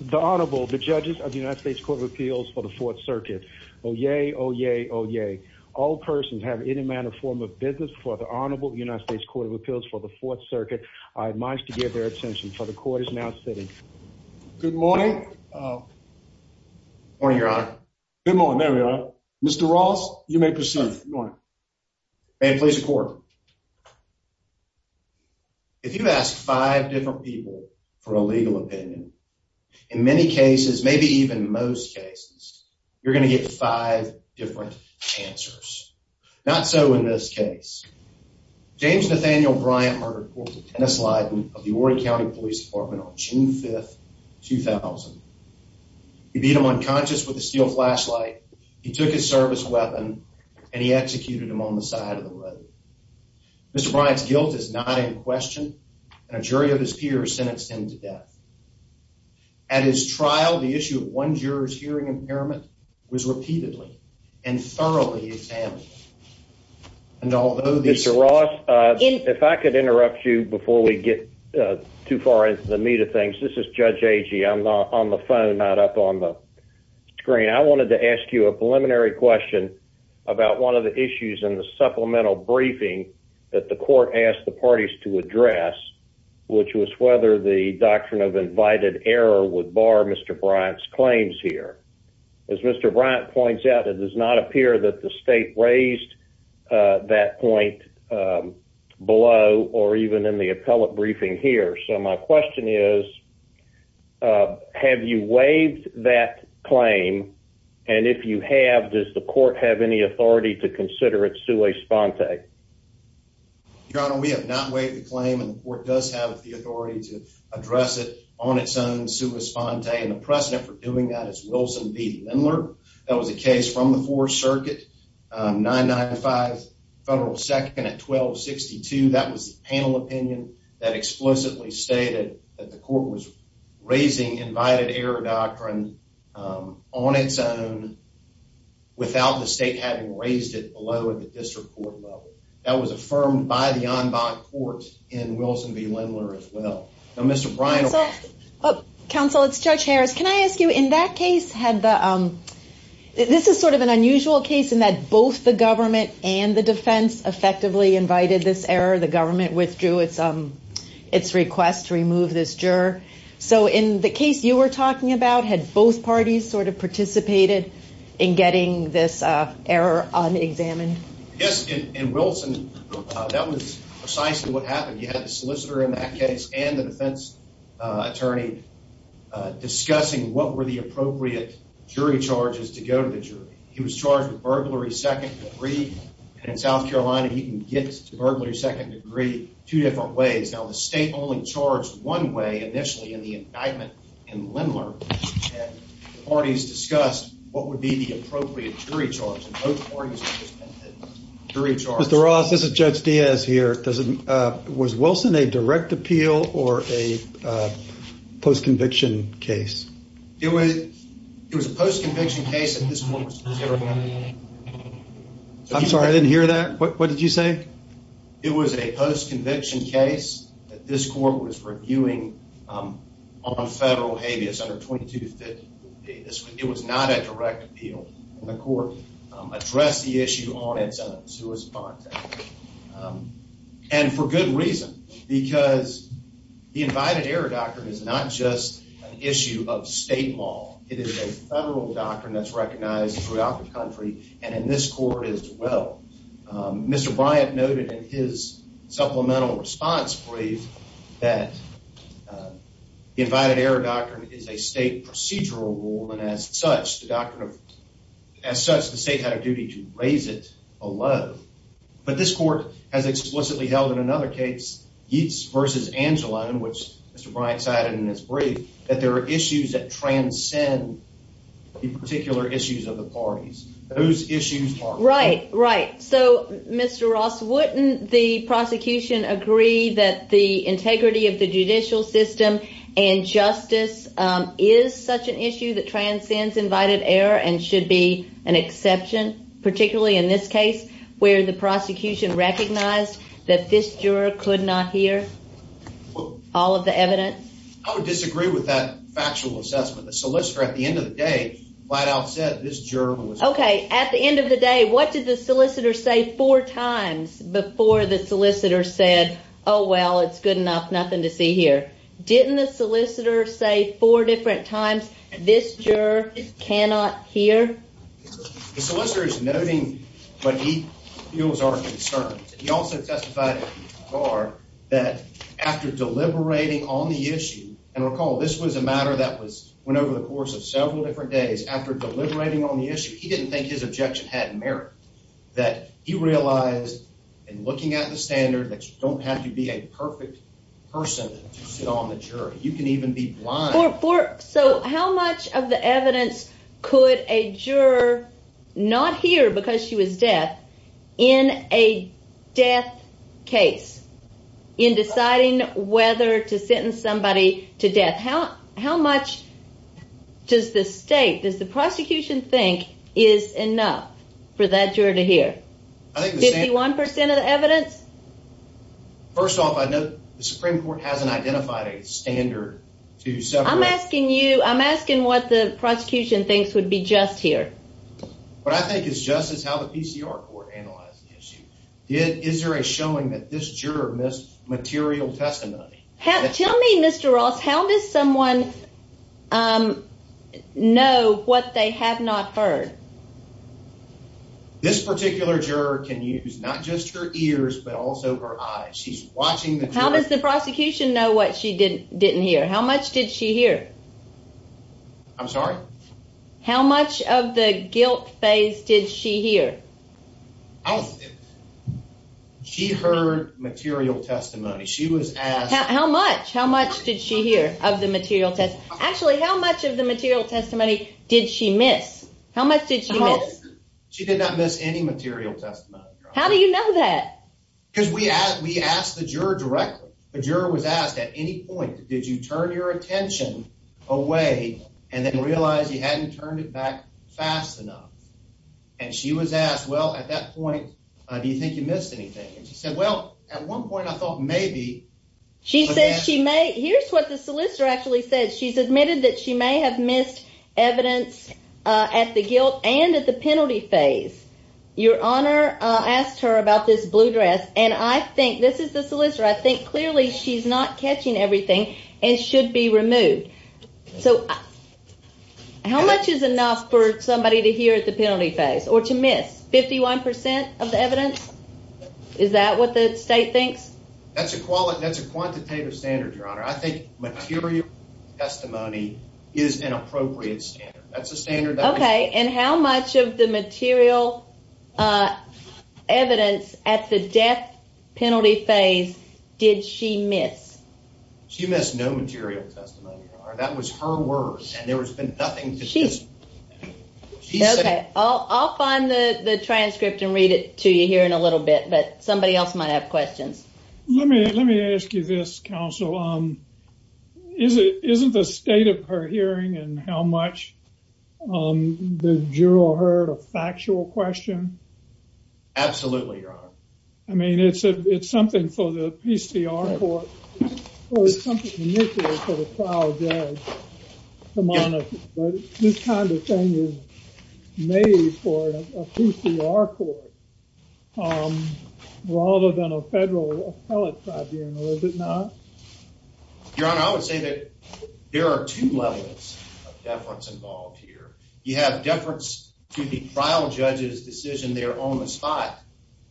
The Honorable, the Judges of the United States Court of Appeals for the Fourth Circuit. Oyez, oyez, oyez. All persons have any manner or form of business before the Honorable United States Court of Appeals for the Fourth Circuit. I admise to give their attention, for the Court is now sitting. Good morning. Good morning, Your Honor. Good morning, Mayor. Mr. Ross, you may proceed. May I please report? If you ask five different people for a legal opinion, in many cases, maybe even most cases, you're going to get five different answers. Not so in this case. James Nathaniel Bryant murdered Corporal Dennis Leiden of the Horry County Police Department on June 5, 2000. He beat him unconscious with a steel flashlight, he took his service weapon, and he executed him on the side of the road. Mr. Bryant's guilt is not in question, and a jury of his peers sentenced him to death. At his trial, the issue of one juror's hearing impairment was repeatedly and thoroughly examined. Mr. Ross, if I could interrupt you before we get too far into the meat of things. This is Judge Agee. I'm not on the phone, not up on the screen. I wanted to ask you a preliminary question about one of the issues in the supplemental briefing that the Court asked the parties to address, which was whether the doctrine of invited error would bar Mr. Bryant's claims here. As Mr. Bryant points out, it does not appear that the State raised that point below or even in the appellate briefing here. So my question is, have you waived that claim? And if you have, does the Court have any authority to consider it sua sponte? Your Honor, we have not waived the claim, and the Court does have the authority to address it on its own sua sponte. And the precedent for doing that is Wilson v. Lindler. That was a case from the Fourth Circuit, 995 Federal 2nd at 1262. That was the panel opinion that explicitly stated that the Court was raising invited error doctrine on its own without the State having raised it below at the district court level. That was affirmed by the en banc court in Wilson v. Lindler as well. Counsel, it's Judge Harris. Can I ask you, in that case, this is sort of an unusual case in that both the government and the defense effectively invited this error. The government withdrew its request to remove this juror. So in the case you were talking about, had both parties sort of participated in getting this error unexamined? Yes, in Wilson, that was precisely what happened. You had the solicitor in that case and the defense attorney discussing what were the appropriate jury charges to go to the jury. He was charged with burglary second degree. And in South Carolina, he can get to burglary second degree two different ways. Now, the State only charged one way initially in the indictment in Lindler. And the parties discussed what would be the appropriate jury charge. Mr. Ross, this is Judge Diaz here. Was Wilson a direct appeal or a post-conviction case? It was a post-conviction case. I'm sorry, I didn't hear that. What did you say? It was a post-conviction case that this court was reviewing on federal habeas under 2250. It was not a direct appeal. The court addressed the issue on its own. And for good reason, because the Invited Error Doctrine is not just an issue of state law. It is a federal doctrine that's recognized throughout the country and in this court as well. Mr. Bryant noted in his supplemental response brief that the Invited Error Doctrine is a state procedural rule. And as such, the state had a duty to raise it below. But this court has explicitly held in another case, Yeats v. Angelone, which Mr. Bryant cited in his brief, that there are issues that transcend the particular issues of the parties. Those issues are- Right, right. So, Mr. Ross, wouldn't the prosecution agree that the integrity of the judicial system and justice is such an issue that transcends Invited Error and should be an exception, particularly in this case where the prosecution recognized that this juror could not hear all of the evidence? I would disagree with that factual assessment. The solicitor, at the end of the day, flat out said this juror was- Okay, at the end of the day, what did the solicitor say four times before the solicitor said, oh, well, it's good enough, nothing to see here? Didn't the solicitor say four different times this juror cannot hear? The solicitor is noting what he feels are concerns. He also testified at the bar that after deliberating on the issue- and recall, this was a matter that went over the course of several different days. After deliberating on the issue, he didn't think his objection had merit, that he realized in looking at the standard that you don't have to be a perfect person to sit on the jury. You can even be blind. So how much of the evidence could a juror not hear because she was deaf in a death case in deciding whether to sentence somebody to death? How much does the state, does the prosecution think, is enough for that juror to hear? 51% of the evidence? First off, I note the Supreme Court hasn't identified a standard to separate- I'm asking you, I'm asking what the prosecution thinks would be just here. What I think is just is how the PCR court analyzed the issue. Is there a showing that this juror missed material testimony? Tell me, Mr. Ross, how does someone know what they have not heard? This particular juror can use not just her ears, but also her eyes. How does the prosecution know what she didn't hear? How much did she hear? I'm sorry? How much of the guilt phase did she hear? She heard material testimony. How much? How much did she hear of the material testimony? Actually, how much of the material testimony did she miss? How much did she miss? She did not miss any material testimony. How do you know that? Because we asked the juror directly. The juror was asked at any point, did you turn your attention away and then realize you hadn't turned it back fast enough? And she was asked, well, at that point, do you think you missed anything? And she said, well, at one point, I thought maybe. She says she may. Here's what the solicitor actually said. She's admitted that she may have missed evidence at the guilt and at the penalty phase. Your Honor asked her about this blue dress, and I think this is the solicitor. I think clearly she's not catching everything and should be removed. So how much is enough for somebody to hear at the penalty phase or to miss? Fifty-one percent of the evidence? Is that what the state thinks? That's a quantitative standard, Your Honor. I think material testimony is an appropriate standard. Okay, and how much of the material evidence at the death penalty phase did she miss? She missed no material testimony, Your Honor. That was her word, and there has been nothing to dismiss. Okay, I'll find the transcript and read it to you here in a little bit, but somebody else might have questions. Let me ask you this, counsel. Isn't the state of her hearing and how much the juror heard a factual question? Absolutely, Your Honor. I mean, it's something for the PCR court. Well, it's something initial for the trial judge to monitor, but this kind of thing is made for a PCR court rather than a federal appellate tribunal, is it not? Your Honor, I would say that there are two levels of deference involved here. You have deference to the trial judge's decision there on the spot.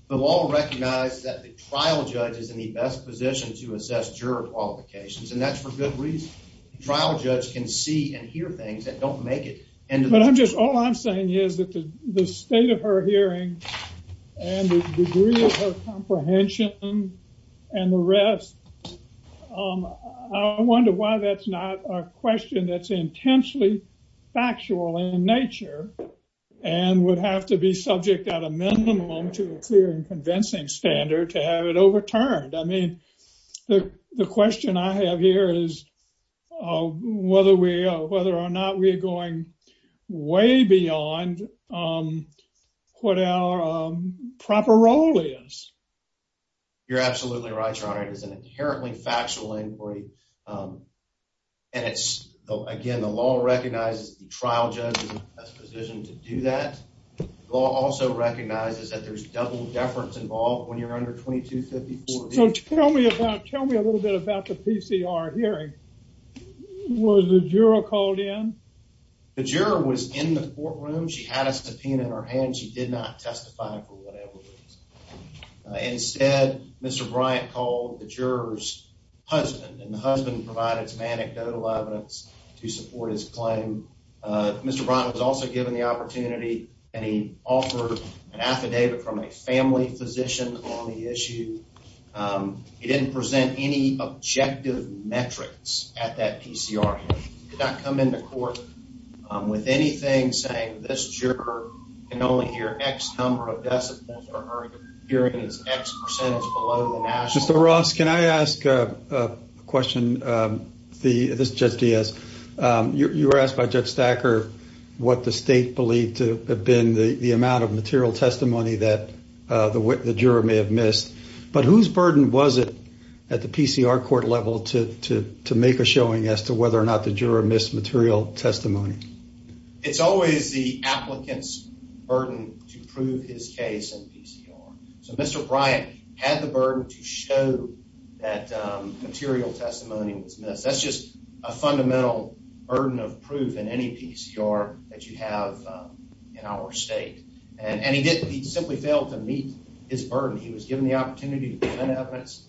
The law recognizes that the trial judge is in the best position to assess juror qualifications, and that's for good reason. The trial judge can see and hear things that don't make it. But all I'm saying is that the state of her hearing and the degree of her comprehension and the rest, I wonder why that's not a question that's intensely factual in nature and would have to be subject at a minimum to a clear and convincing standard to have it overturned. I mean, the question I have here is whether or not we are going way beyond what our proper role is. You're absolutely right, Your Honor. It is an inherently factual inquiry. Again, the law recognizes that the trial judge is in the best position to do that. The law also recognizes that there's double deference involved when you're under 2254B. So tell me a little bit about the PCR hearing. Was the juror called in? The juror was in the courtroom. She had a subpoena in her hand. She did not testify for whatever reason. Instead, Mr. Bryant called the juror's husband, and the husband provided some anecdotal evidence to support his claim. Mr. Bryant was also given the opportunity, and he offered an affidavit from a family physician on the issue. He didn't present any objective metrics at that PCR hearing. He did not come into court with anything saying, this juror can only hear X number of decibels or hearing is X percentage below the national standard. Mr. Ross, can I ask a question? This is Judge Diaz. You were asked by Judge Stacker what the state believed to have been the amount of material testimony that the juror may have missed. But whose burden was it at the PCR court level to make a showing as to whether or not the juror missed material testimony? It's always the applicant's burden to prove his case in PCR. So Mr. Bryant had the burden to show that material testimony was missed. That's just a fundamental burden of proof in any PCR that you have in our state. And he simply failed to meet his burden. He was given the opportunity to present evidence,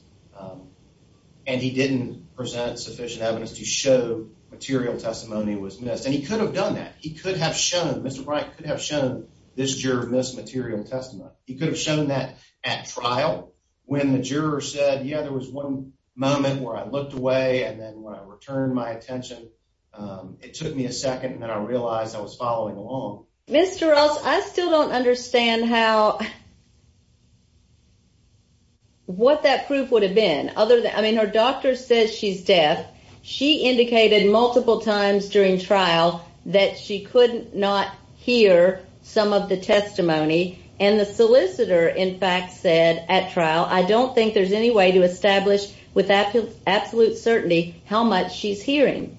and he didn't present sufficient evidence to show material testimony was missed. And he could have done that. He could have shown, Mr. Bryant could have shown this juror missed material testimony. He could have shown that at trial when the juror said, yeah, there was one moment where I looked away. And then when I returned my attention, it took me a second, and then I realized I was following along. Mr. Ross, I still don't understand how, what that proof would have been. I mean, her doctor said she's deaf. She indicated multiple times during trial that she could not hear some of the testimony. And the solicitor, in fact, said at trial, I don't think there's any way to establish with absolute certainty how much she's hearing.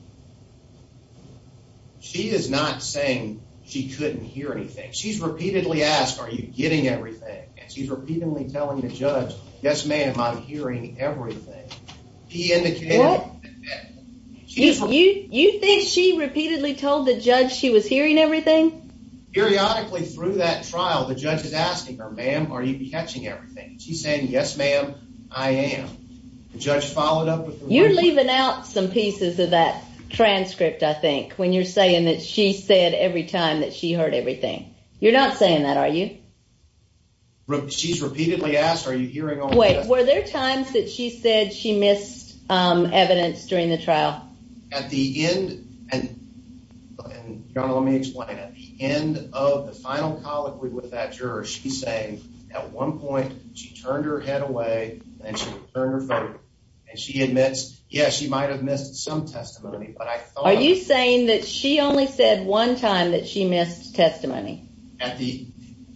She is not saying she couldn't hear anything. She's repeatedly asked, are you getting everything? And she's repeatedly telling the judge, yes, ma'am, I'm hearing everything. He indicated that. You think she repeatedly told the judge she was hearing everything? Periodically through that trial, the judge is asking her, ma'am, are you catching everything? She's saying, yes, ma'am, I am. The judge followed up with the result. You're leaving out some pieces of that transcript, I think, when you're saying that she said every time that she heard everything. You're not saying that, are you? She's repeatedly asked, are you hearing all of this? Wait, were there times that she said she missed evidence during the trial? At the end, and, John, let me explain. At the end of the final colloquy with that juror, she's saying at one point she turned her head away and she turned her face. And she admits, yes, she might have missed some testimony, but I thought... Are you saying that she only said one time that she missed testimony? At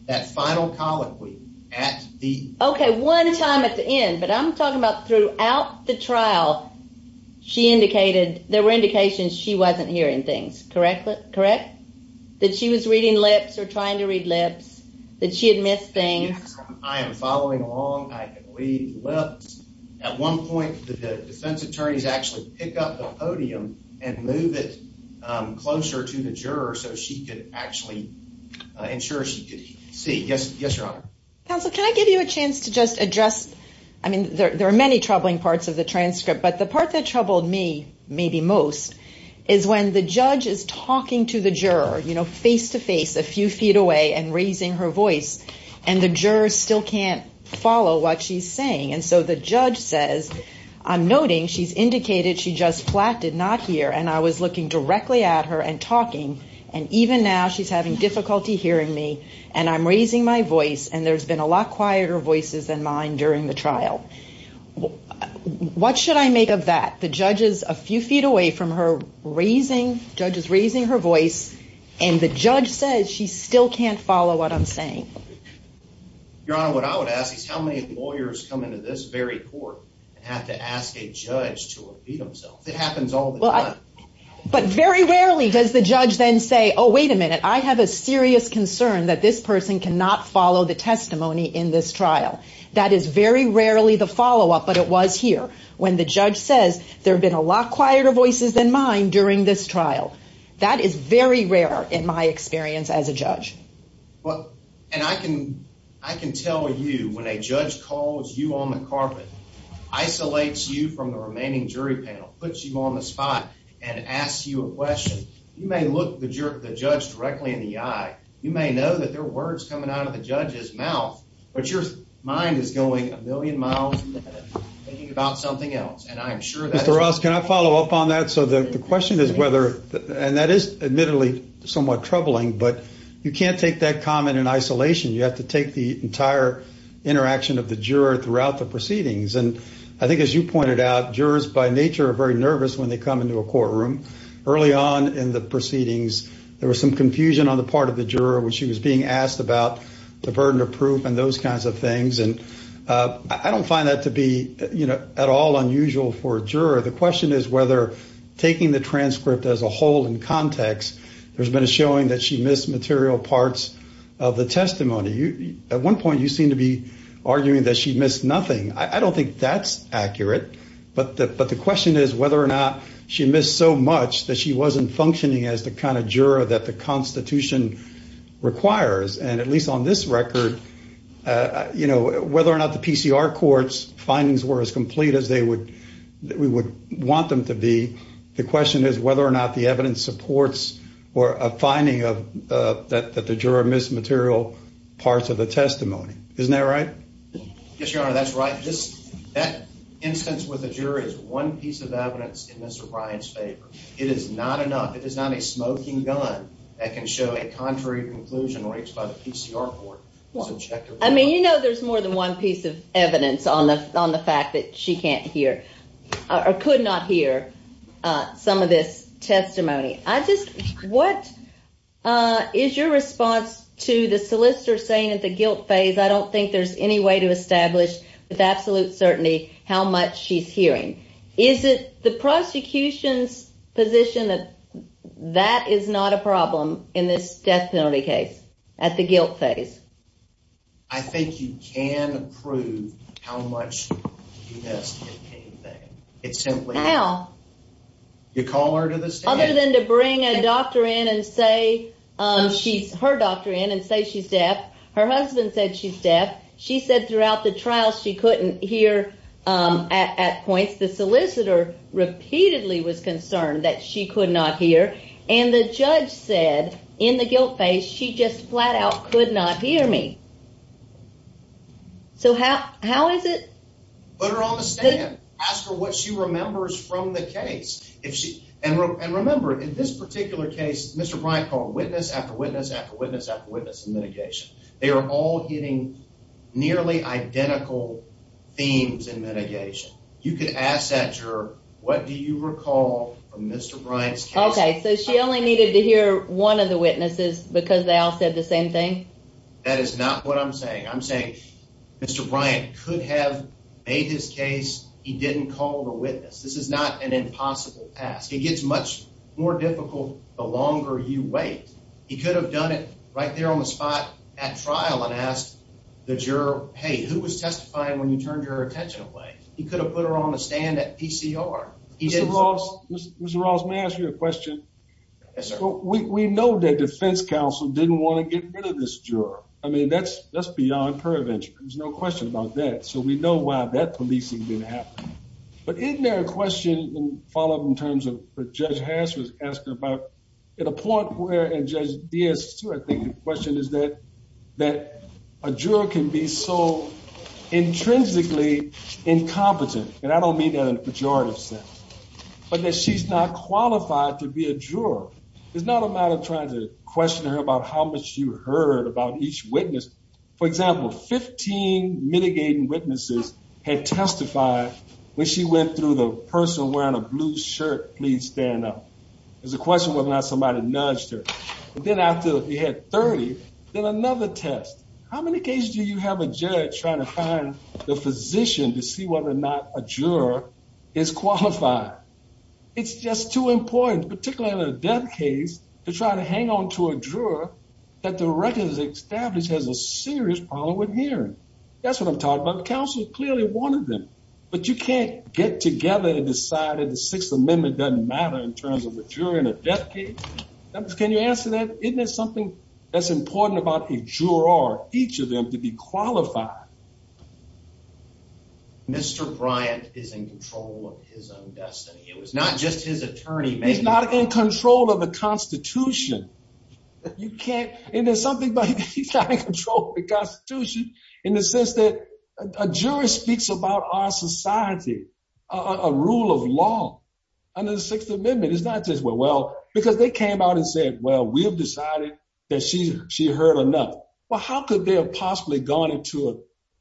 that final colloquy, at the... Okay, one time at the end, but I'm talking about throughout the trial, she indicated, there were indications she wasn't hearing things, correct? That she was reading lips or trying to read lips, that she had missed things. I am following along. I can read lips. At one point, the defense attorneys actually pick up the podium and move it closer to the juror so she could actually ensure she could see. Yes, Your Honor. Counsel, can I give you a chance to just address... I mean, there are many troubling parts of the transcript, but the part that troubled me maybe most is when the judge is talking to the juror, you know, face-to-face, a few feet away, and raising her voice. And the juror still can't follow what she's saying. And so the judge says, I'm noting she's indicated she just flat did not hear, and I was looking directly at her and talking. And even now, she's having difficulty hearing me, and I'm raising my voice, and there's been a lot quieter voices than mine during the trial. What should I make of that? The judge is a few feet away from her, raising, the judge is raising her voice, and the judge says she still can't follow what I'm saying. Your Honor, what I would ask is how many lawyers come into this very court and have to ask a judge to repeat themselves? It happens all the time. But very rarely does the judge then say, oh, wait a minute, I have a serious concern that this person cannot follow the testimony in this trial. That is very rarely the follow-up, but it was here, when the judge says, there have been a lot quieter voices than mine during this trial. That is very rare in my experience as a judge. And I can tell you, when a judge calls you on the carpet, isolates you from the remaining jury panel, puts you on the spot, and asks you a question, you may look the judge directly in the eye. You may know that there are words coming out of the judge's mouth, but your mind is going a million miles ahead of thinking about something else. And I'm sure that's... Mr. Ross, can I follow up on that? So the question is whether, and that is admittedly somewhat troubling, but you can't take that comment in isolation. You have to take the entire interaction of the juror throughout the proceedings. And I think as you pointed out, jurors by nature are very nervous when they come into a courtroom. Early on in the proceedings, there was some confusion on the part of the juror when she was being asked about the burden of proof and those kinds of things. And I don't find that to be, you know, at all unusual for a juror. The question is whether taking the transcript as a whole in context, there's been a showing that she missed material parts of the testimony. At one point, you seem to be arguing that she missed nothing. I don't think that's accurate, but the question is whether or not she missed so much that she wasn't functioning as the kind of juror that the Constitution requires. And at least on this record, you know, whether or not the PCR court's findings were as complete as we would want them to be, the question is whether or not the evidence supports a finding that the juror missed material parts of the testimony. Isn't that right? Yes, Your Honor, that's right. Just that instance with the jury is one piece of evidence in Mr. Bryant's favor. It is not enough. It is not a smoking gun that can show a contrary conclusion reached by the PCR court. I mean, you know there's more than one piece of evidence on the fact that she can't hear or could not hear some of this testimony. I just, what is your response to the solicitor saying at the guilt phase, I don't think there's any way to establish with absolute certainty how much she's hearing. Is it the prosecution's position that that is not a problem in this death penalty case at the guilt phase? I think you can prove how much she has to get paid. How? You call her to the stand. Other than to bring a doctor in and say, her doctor in and say she's deaf. Her husband said she's deaf. She said throughout the trial she couldn't hear at points. The solicitor repeatedly was concerned that she could not hear. And the judge said in the guilt phase she just flat out could not hear me. So how is it? Put her on the stand. Ask her what she remembers from the case. And remember, in this particular case, Mr. Bryant called witness after witness after witness after witness in mitigation. They are all hitting nearly identical themes in mitigation. You could ask that juror, what do you recall from Mr. Bryant's case? Okay, so she only needed to hear one of the witnesses because they all said the same thing? That is not what I'm saying. I'm saying Mr. Bryant could have made his case. He didn't call the witness. This is not an impossible task. It gets much more difficult the longer you wait. He could have done it right there on the spot at trial and asked the juror, hey, who was testifying when you turned your attention away? He could have put her on the stand at PCR. Mr. Ross, may I ask you a question? Yes, sir. We know that defense counsel didn't want to get rid of this juror. I mean, that's beyond prevention. There's no question about that. So we know why that policing didn't happen. But isn't there a question in follow-up in terms of what Judge Hatch was asking about? At a point where, and Judge Diaz, too, I think the question is that a juror can be so intrinsically incompetent. And I don't mean that in a pejorative sense. But that she's not qualified to be a juror. It's not a matter of trying to question her about how much you heard about each witness. For example, 15 mitigating witnesses had testified when she went through the person wearing a blue shirt, please stand up. There's a question whether or not somebody nudged her. But then after you had 30, then another test. How many cases do you have a judge trying to find the physician to see whether or not a juror is qualified? It's just too important, particularly in a death case, to try to hang on to a juror that the record has established has a serious problem with hearing. That's what I'm talking about. The counsel clearly wanted them. But you can't get together and decide that the Sixth Amendment doesn't matter in terms of a juror in a death case. Can you answer that? Isn't there something that's important about a juror or each of them to be qualified? Mr. Bryant is in control of his own destiny. It was not just his attorney. He's not in control of the Constitution. You can't. And there's something about he's trying to control the Constitution in the sense that a juror speaks about our society, a rule of law under the Sixth Amendment. It's not just, well, because they came out and said, well, we have decided that she heard enough. Well, how could they have possibly gone into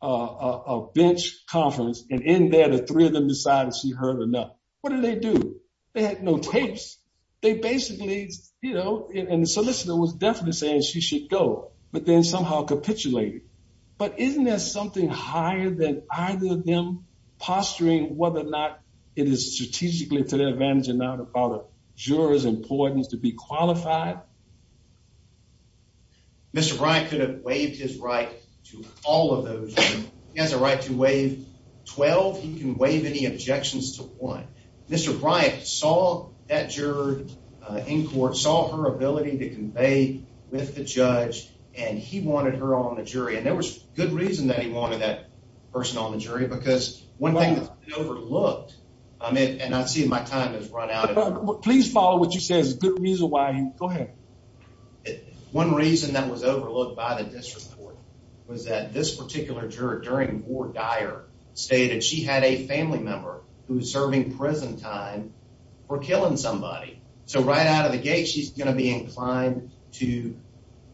a bench conference and in there the three of them decided she heard enough? What did they do? They had no tapes. They basically, you know, and the solicitor was definitely saying she should go, but then somehow capitulated. But isn't there something higher than either of them posturing whether or not it is strategically to their advantage or not about a juror's importance to be qualified? Mr. Bryant could have waived his right to all of those. He has a right to waive 12. He can waive any objections to one. Mr. Bryant saw that juror in court, saw her ability to convey with the judge, and he wanted her on the jury. And there was good reason that he wanted that person on the jury because one thing that's been overlooked, and I see my time has run out. Please follow what you say is a good reason why. Go ahead. One reason that was overlooked by the district court was that this particular juror during Ward Dyer stated she had a family member who was serving prison time for killing somebody. So right out of the gate, she's going to be inclined to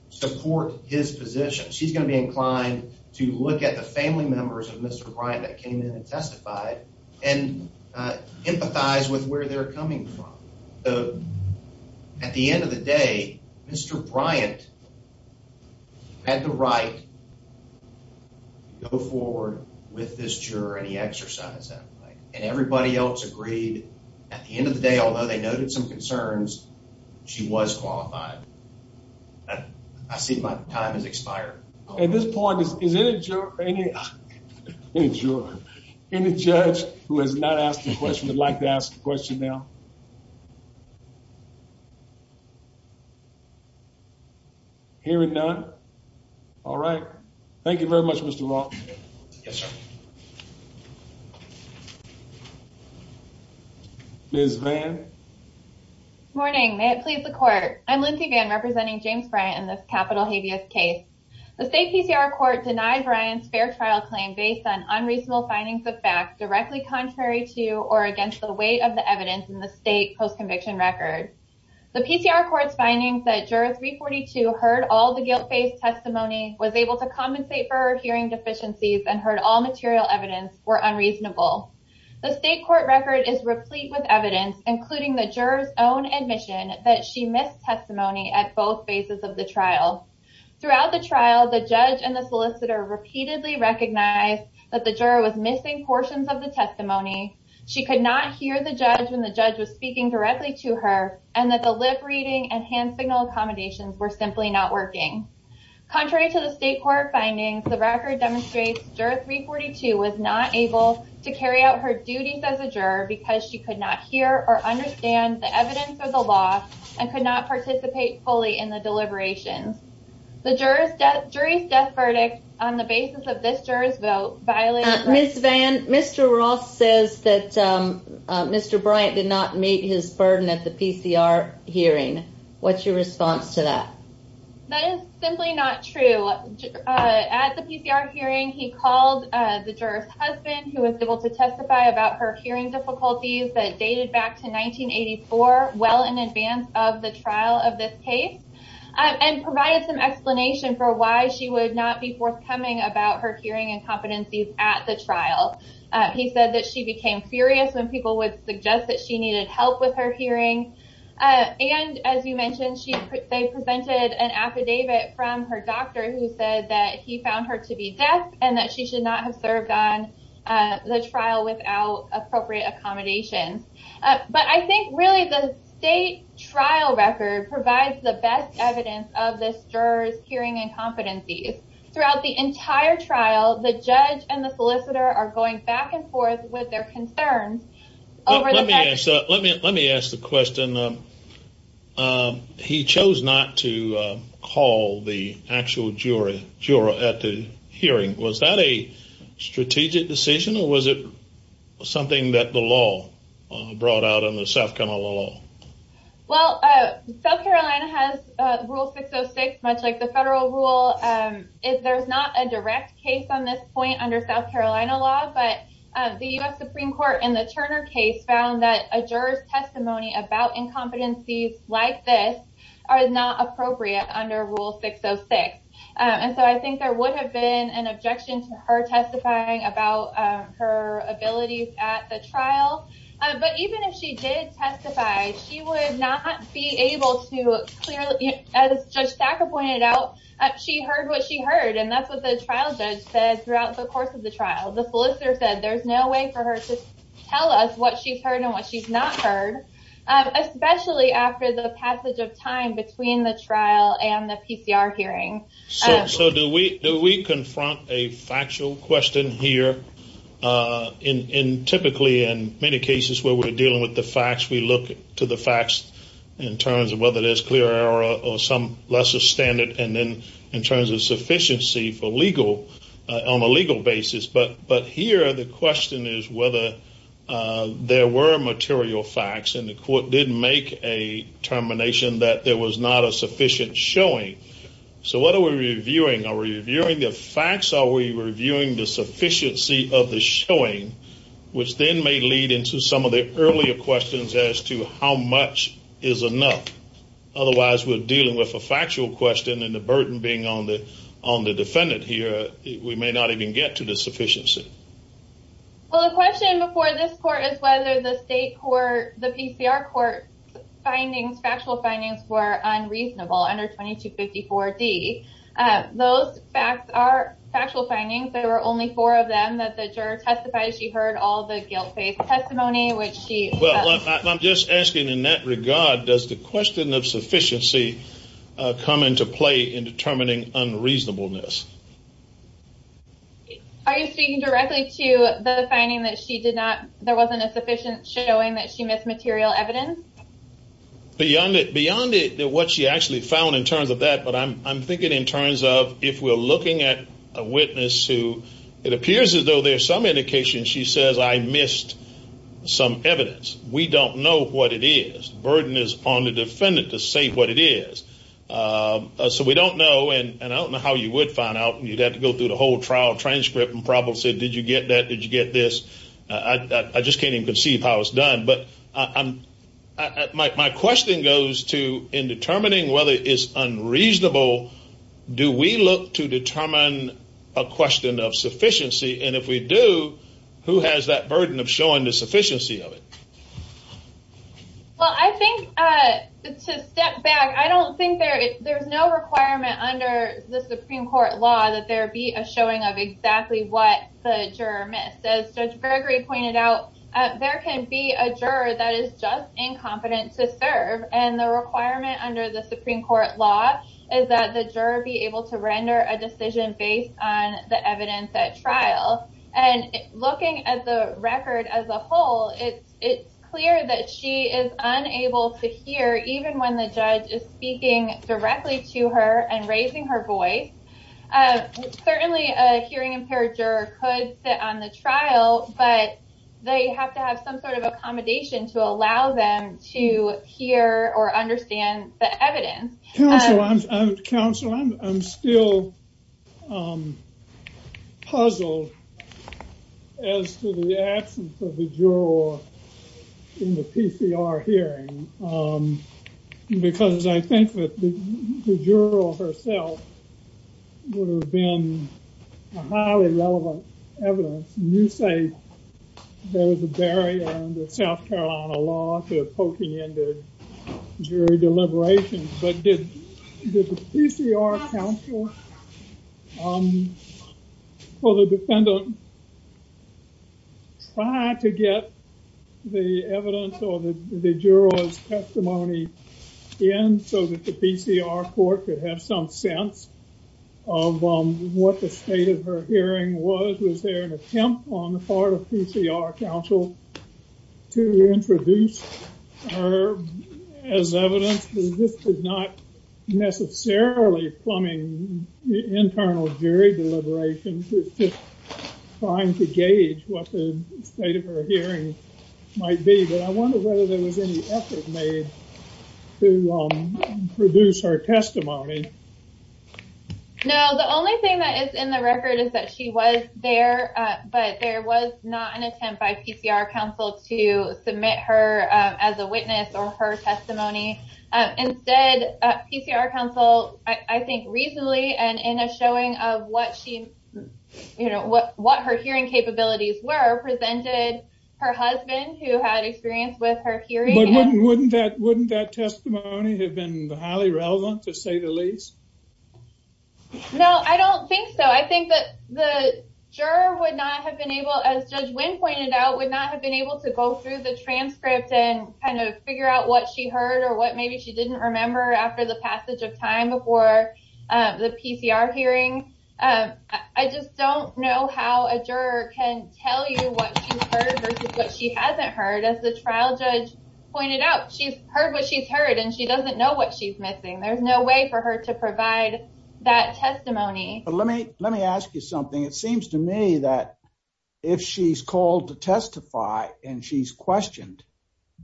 support his position. She's going to be inclined to look at the family members of Mr. Bryant that came in and testified and empathize with where they're coming from. So at the end of the day, Mr. Bryant had the right to go forward with this juror, and he exercised that right. And everybody else agreed at the end of the day, although they noted some concerns, she was qualified. I see my time has expired. At this point, is there any juror, any judge who has not asked a question, would like to ask a question now? Hearing none. All right. Thank you very much, Mr. Roth. Yes, sir. Ms. Vann. Morning. May it please the court. I'm Lindsay Vann, representing James Bryant in this capital habeas case. The state PCR court denied Bryant's fair trial claim based on unreasonable findings of fact directly contrary to or against the weight of the evidence in the state post-conviction record. The PCR court's findings that juror 342 heard all the guilt-based testimony, was able to compensate for her hearing deficiencies, and heard all material evidence were unreasonable. The state court record is replete with evidence, including the juror's own admission that she missed testimony at both phases of the trial. Throughout the trial, the judge and the solicitor repeatedly recognized that the juror was missing portions of the testimony. She could not hear the judge when the judge was speaking directly to her, and that the lip reading and hand signal accommodations were simply not working. Contrary to the state court findings, the record demonstrates juror 342 was not able to carry out her duties as a juror because she could not hear or understand the evidence or the law, and could not participate fully in the deliberations. The jury's death verdict on the basis of this juror's vote violated… Ms. Vann, Mr. Roth says that Mr. Bryant did not meet his burden at the PCR hearing. What's your response to that? That is simply not true. At the PCR hearing, he called the juror's husband, who was able to testify about her hearing difficulties that dated back to 1984, well in advance of the trial of this case, and provided some explanation for why she would not be forthcoming about her hearing incompetencies at the trial. He said that she became furious when people would suggest that she needed help with her hearing. And, as you mentioned, they presented an affidavit from her doctor who said that he found her to be deaf and that she should not have served on the trial without appropriate accommodations. But I think, really, the state trial record provides the best evidence of this juror's hearing incompetencies. Throughout the entire trial, the judge and the solicitor are going back and forth with their concerns over the fact… Let me ask the question. He chose not to call the actual juror at the hearing. Was that a strategic decision, or was it something that the law brought out in the South Carolina law? Well, South Carolina has Rule 606, much like the federal rule. There's not a direct case on this point under South Carolina law, but the U.S. Supreme Court in the Turner case found that a juror's testimony about incompetencies like this are not appropriate under Rule 606. And so I think there would have been an objection to her testifying about her abilities at the trial. But even if she did testify, she would not be able to clearly… As Judge Thacker pointed out, she heard what she heard, and that's what the trial judge said throughout the course of the trial. The solicitor said there's no way for her to tell us what she's heard and what she's not heard, especially after the passage of time between the trial and the PCR hearing. So do we confront a factual question here? Typically, in many cases where we're dealing with the facts, we look to the facts in terms of whether there's clear error or some lesser standard, and then in terms of sufficiency on a legal basis. But here, the question is whether there were material facts, and the court did make a determination that there was not a sufficient showing. So what are we reviewing? Are we reviewing the facts? Are we reviewing the sufficiency of the showing? Which then may lead into some of the earlier questions as to how much is enough. Otherwise, we're dealing with a factual question, and the burden being on the defendant here, we may not even get to the sufficiency. Well, the question before this court is whether the state court, the PCR court findings, factual findings, were unreasonable under 2254D. Those facts are factual findings. There were only four of them that the juror testified she heard all the guilt-based testimony, which she… Well, I'm just asking in that regard, does the question of sufficiency come into play in determining unreasonableness? Are you speaking directly to the finding that there wasn't a sufficient showing that she missed material evidence? Beyond it, what she actually found in terms of that, but I'm thinking in terms of if we're looking at a witness who it appears as though there's some indication she says, I missed some evidence. We don't know what it is. The burden is on the defendant to say what it is. So we don't know, and I don't know how you would find out. You'd have to go through the whole trial transcript and probably say, did you get that? Did you get this? I just can't even conceive how it's done. But my question goes to in determining whether it is unreasonable, do we look to determine a question of sufficiency? And if we do, who has that burden of showing the sufficiency of it? Well, I think to step back, I don't think there's no requirement under the Supreme Court law that there be a showing of exactly what the juror missed. As Judge Gregory pointed out, there can be a juror that is just incompetent to serve, and the requirement under the Supreme Court law is that the juror be able to render a decision based on the evidence at trial. And looking at the record as a whole, it's clear that she is unable to hear even when the judge is speaking directly to her and raising her voice. Certainly, a hearing impaired juror could sit on the trial, but they have to have some sort of accommodation to allow them to hear or understand the evidence. Counsel, I'm still puzzled as to the absence of the juror in the PCR hearing, because I think that the juror herself would have been a highly relevant evidence. You say there was a barrier under South Carolina law to poking into jury deliberations, but did the PCR counsel or the defendant try to get the evidence or the juror's testimony in so that the PCR court could have some sense of what the state of her hearing was? Was there an attempt on the part of PCR counsel to introduce her as evidence? This is not necessarily plumbing internal jury deliberations. I'm trying to gauge what the state of her hearing might be, but I wonder whether there was any effort made to produce her testimony. No, the only thing that is in the record is that she was there, but there was not an attempt by PCR counsel to submit her as a witness or her testimony. Instead, PCR counsel, I think reasonably and in a showing of what her hearing capabilities were, presented her husband, who had experience with her hearing. But wouldn't that testimony have been highly relevant, to say the least? No, I don't think so. I think that the juror would not have been able, as Judge Wynn pointed out, would not have been able to go through the transcript and kind of figure out what she heard or what maybe she didn't remember after the passage of time before the PCR hearing. I just don't know how a juror can tell you what she's heard versus what she hasn't heard. As the trial judge pointed out, she's heard what she's heard, and she doesn't know what she's missing. There's no way for her to provide that testimony. Let me ask you something. It seems to me that if she's called to testify and she's questioned,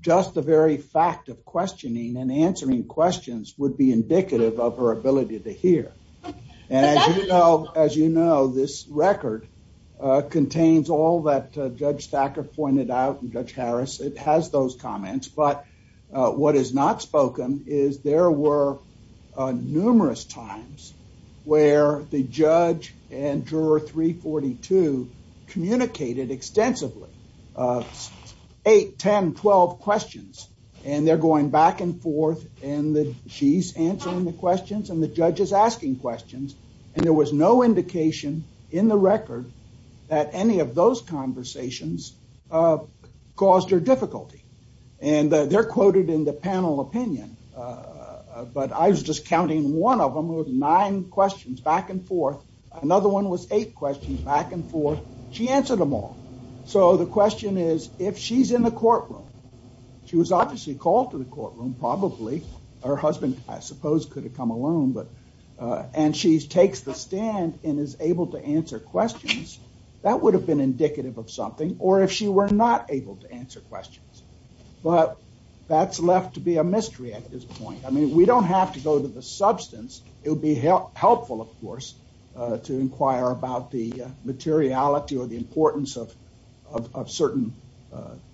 just the very fact of questioning and answering questions would be indicative of her ability to hear. As you know, this record contains all that Judge Thacker pointed out and Judge Harris. It has those comments, but what is not spoken is there were numerous times where the judge and juror 342 communicated extensively. Eight, 10, 12 questions, and they're going back and forth, and she's answering the questions, and the judge is asking questions, and there was no indication in the record that any of those conversations caused her difficulty. They're quoted in the panel opinion, but I was just counting one of them with nine questions back and forth. Another one was eight questions back and forth. She answered them all, so the question is if she's in the courtroom. She was obviously called to the courtroom, probably. Her husband, I suppose, could have come alone, and she takes the stand and is able to answer questions. That would have been indicative of something, or if she were not able to answer questions, but that's left to be a mystery at this point. I mean, we don't have to go to the substance. It would be helpful, of course, to inquire about the materiality or the importance of certain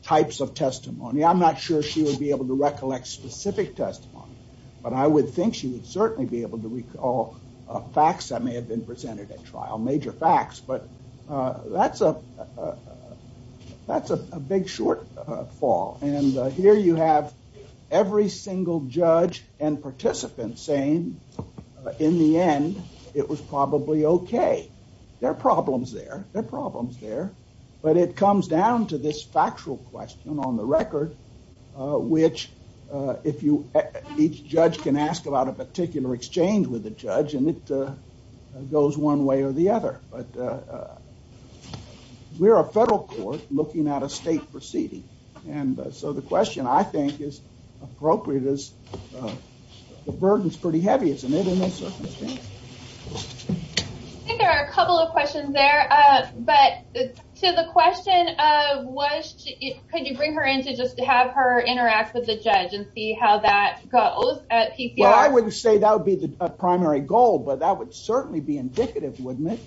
types of testimony. I'm not sure she would be able to recollect specific testimony, but I would think she would certainly be able to recall facts that may have been presented at trial, major facts, but that's a big short fall, and here you have every single judge and participant saying, in the end, it was probably okay. There are problems there. There are problems there, but it comes down to this factual question on the record, which each judge can ask about a particular exchange with the judge, and it goes one way or the other, but we're a federal court looking at a state proceeding, and so the question, I think, is appropriate. The burden is pretty heavy, isn't it, in this circumstance? I think there are a couple of questions there, but to the question of could you bring her in to just have her interact with the judge and see how that goes at PCR? Well, I wouldn't say that would be the primary goal, but that would certainly be indicative, wouldn't it?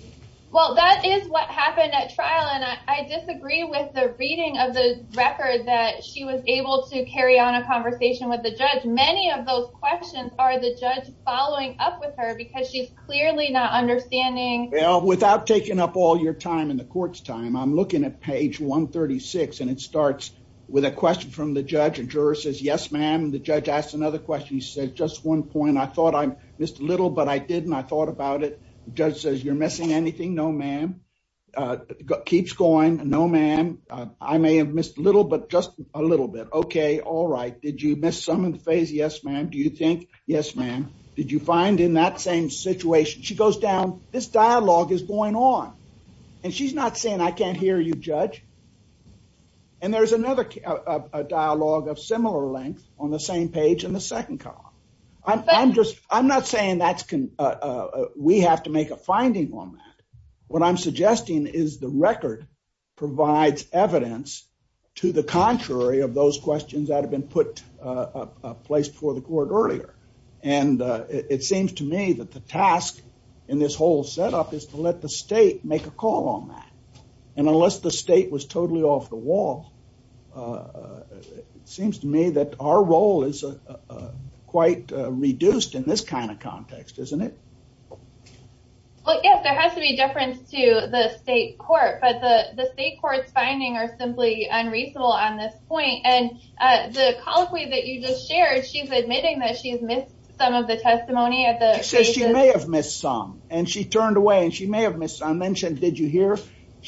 Well, that is what happened at trial, and I disagree with the reading of the record that she was able to carry on a conversation with the judge. Many of those questions are the judge following up with her because she's clearly not understanding. Without taking up all your time in the court's time, I'm looking at page 136, and it starts with a question from the judge. A juror says, yes, ma'am, and the judge asks another question. He says, just one point. I thought I missed a little, but I didn't. I thought about it. The judge says, you're missing anything? No, ma'am. Keeps going. No, ma'am. I may have missed a little, but just a little bit. Okay. All right. Did you miss some in the phase? Yes, ma'am. Do you think? Yes, ma'am. Did you find in that same situation? She goes down. This dialogue is going on, and she's not saying, I can't hear you, judge. And there's another dialogue of similar length on the same page in the second column. I'm not saying we have to make a finding on that. What I'm suggesting is the record provides evidence to the contrary of those questions that have been put in place before the court earlier. And it seems to me that the task in this whole setup is to let the state make a call on that. And unless the state was totally off the wall, it seems to me that our role is quite reduced in this kind of context, isn't it? Well, yes, there has to be a difference to the state court. But the state court's findings are simply unreasonable on this point. And the colloquy that you just shared, she's admitting that she's missed some of the testimony at the phases. She says she may have missed some. And she turned away, and she may have missed some. I mentioned, did you hear?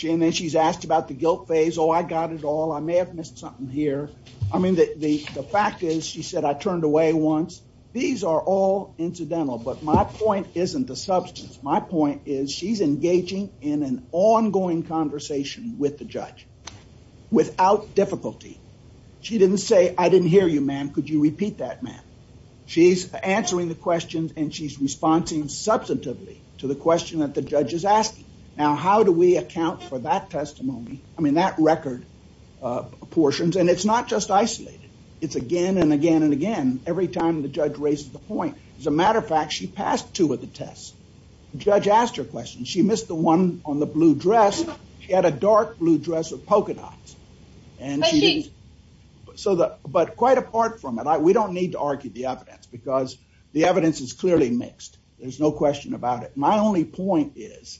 And then she's asked about the guilt phase. Oh, I got it all. I may have missed something here. I mean, the fact is, she said, I turned away once. These are all incidental. But my point isn't the substance. My point is, she's engaging in an ongoing conversation with the judge without difficulty. She didn't say, I didn't hear you, ma'am. Could you repeat that, ma'am? She's answering the questions. And she's responding substantively to the question that the judge is asking. Now, how do we account for that testimony? I mean, that record portions. And it's not just isolated. It's again, and again, and again, every time the judge raises the point. As a matter of fact, she passed two of the tests. The judge asked her a question. She missed the one on the blue dress. She had a dark blue dress with polka dots. And she didn't. But quite apart from it, we don't need to argue the evidence. Because the evidence is clearly mixed. There's no question about it. My only point is,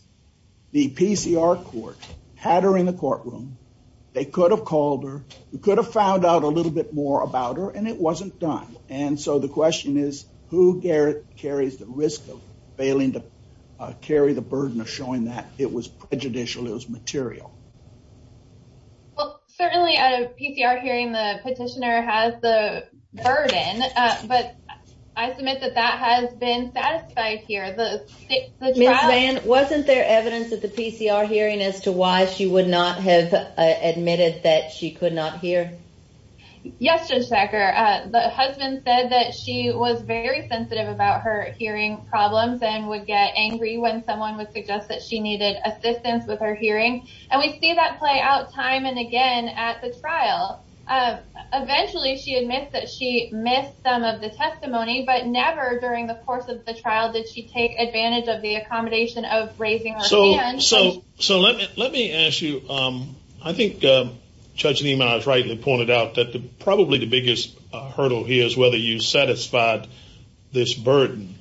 the PCR court had her in the courtroom. They could have called her. We could have found out a little bit more about her. And it wasn't done. And so the question is, who carries the risk of failing to carry the burden of showing that it was prejudicial, it was material? Well, certainly at a PCR hearing, the petitioner has the burden. But I submit that that has been satisfied here. Ms. Vann, wasn't there evidence at the PCR hearing as to why she would not have admitted that she could not hear? Yes, Judge Thacker. The husband said that she was very sensitive about her hearing problems and would get angry when someone would suggest that she needed assistance with her hearing. And we see that play out time and again at the trial. Eventually she admits that she missed some of the testimony, but never during the course of the trial did she take advantage of the accommodation of raising her hand. So let me ask you, I think Judge Niemann was right when he pointed out that probably the biggest hurdle here is whether you satisfied this burden.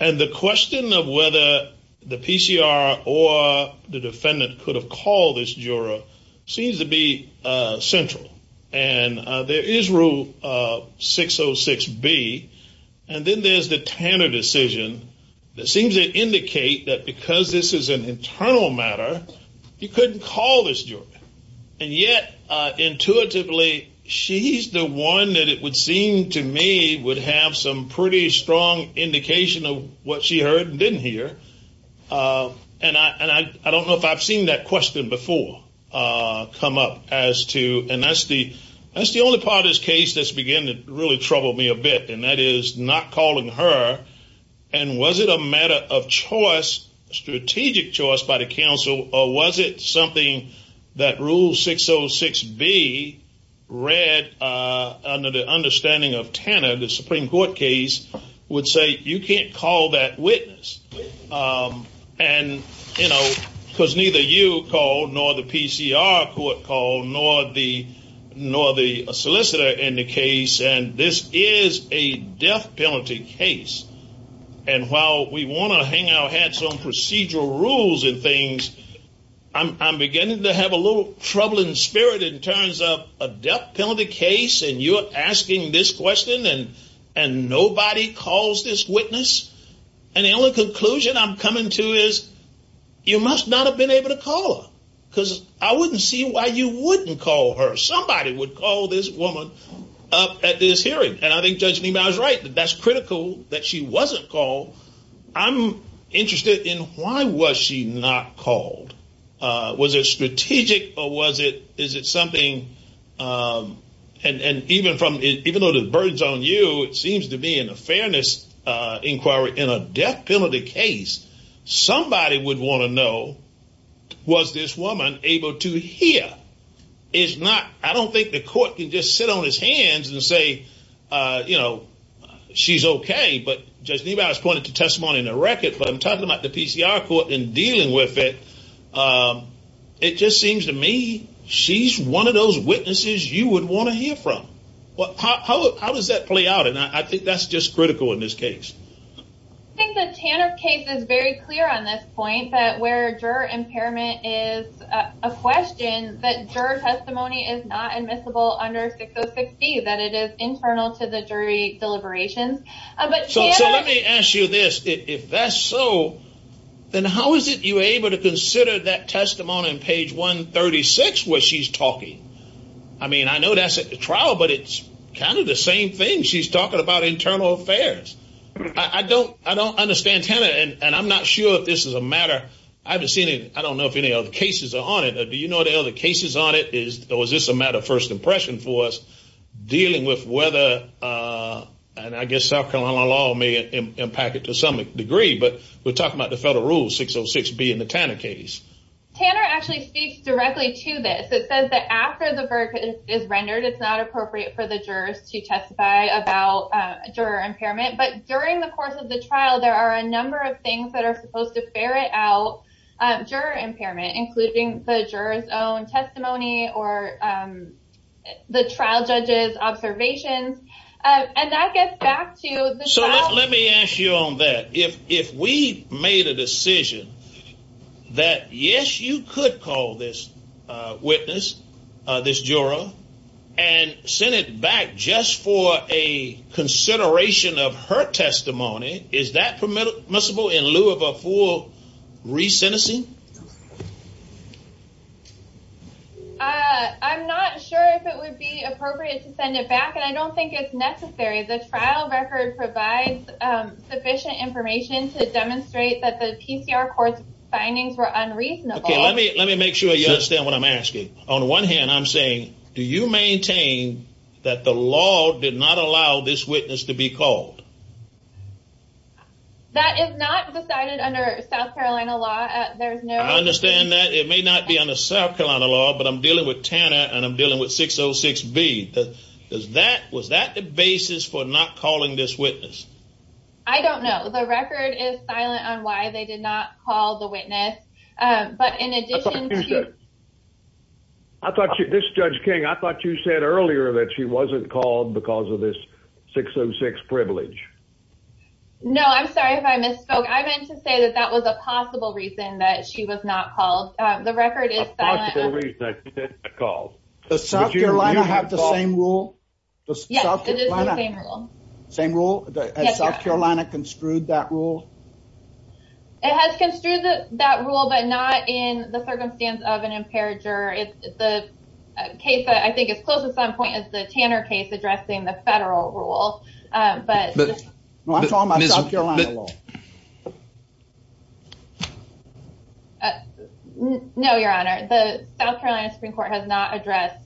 And the question of whether the PCR or the defendant could have called this juror seems to be central. And there is Rule 606B. And then there's the Tanner decision that seems to indicate that because this is an internal matter, you couldn't call this juror. And yet intuitively she's the one that it would seem to me would have some pretty strong indication of what she heard and didn't hear. And I don't know if I've seen that question before come up as to, and that's the only part of this case that's beginning to really trouble me a bit, and that is not calling her. And was it a matter of choice, strategic choice by the counsel, or was it something that Rule 606B read under the understanding of Tanner, the Supreme Court case, would say you can't call that witness. And, you know, because neither you called nor the PCR court called nor the solicitor in the case, and this is a death penalty case. And while we want to hang our hats on procedural rules and things, I'm beginning to have a little troubling spirit in terms of a death penalty case, and you're asking this question, and nobody calls this witness. And the only conclusion I'm coming to is you must not have been able to call her because I wouldn't see why you wouldn't call her. Somebody would call this woman up at this hearing. And I think Judge Niemeyer is right that that's critical that she wasn't called. I'm interested in why was she not called. Was it strategic or was it something, and even though the burden's on you, it seems to me in a fairness inquiry in a death penalty case, somebody would want to know was this woman able to hear. I don't think the court can just sit on his hands and say, you know, she's okay, but Judge Niemeyer has pointed to testimony in the record, but I'm talking about the PCR court and dealing with it. It just seems to me she's one of those witnesses you would want to hear from. How does that play out? And I think that's just critical in this case. I think the TANF case is very clear on this point, that where juror impairment is a question, that juror testimony is not admissible under 6060, that it is internal to the jury deliberations. So let me ask you this. If that's so, then how is it you were able to consider that testimony on page 136 where she's talking? I mean, I know that's at the trial, but it's kind of the same thing. She's talking about internal affairs. I don't understand TANF, and I'm not sure if this is a matter. I haven't seen it. I don't know if any other cases are on it. Do you know the other cases on it? Or is this a matter of first impression for us dealing with whether, and I guess South Carolina law may impact it to some degree, but we're talking about the federal rules, 606B in the TANF case. TANF actually speaks directly to this. It says that after the verdict is rendered, it's not appropriate for the jurors to testify about juror impairment. But during the course of the trial, there are a number of things that are supposed to ferret out juror impairment, including the juror's own testimony or the trial judge's observations. And that gets back to the trial. So let me ask you on that. If we made a decision that, yes, you could call this witness, this juror, and send it back just for a consideration of her testimony, is that permissible in lieu of a full re-sentencing? I'm not sure if it would be appropriate to send it back, and I don't think it's necessary. The trial record provides sufficient information to demonstrate that the PCR court's findings were unreasonable. Okay, let me make sure you understand what I'm asking. On one hand, I'm saying, do you maintain that the law did not allow this witness to be called? That is not decided under South Carolina law. I understand that. It may not be under South Carolina law, but I'm dealing with Tanner and I'm dealing with 606B. Was that the basis for not calling this witness? I don't know. The record is silent on why they did not call the witness. This is Judge King. I thought you said earlier that she wasn't called because of this 606 privilege. No, I'm sorry if I misspoke. I meant to say that that was a possible reason that she was not called. The record is silent. Does South Carolina have the same rule? Yes, it is the same rule. Has South Carolina construed that rule? It has construed that rule, but not in the circumstance of an impaired juror. The case, I think, is close to some point as the Tanner case addressing the federal rule. I'm talking about South Carolina law. No, Your Honor. The South Carolina Supreme Court has not addressed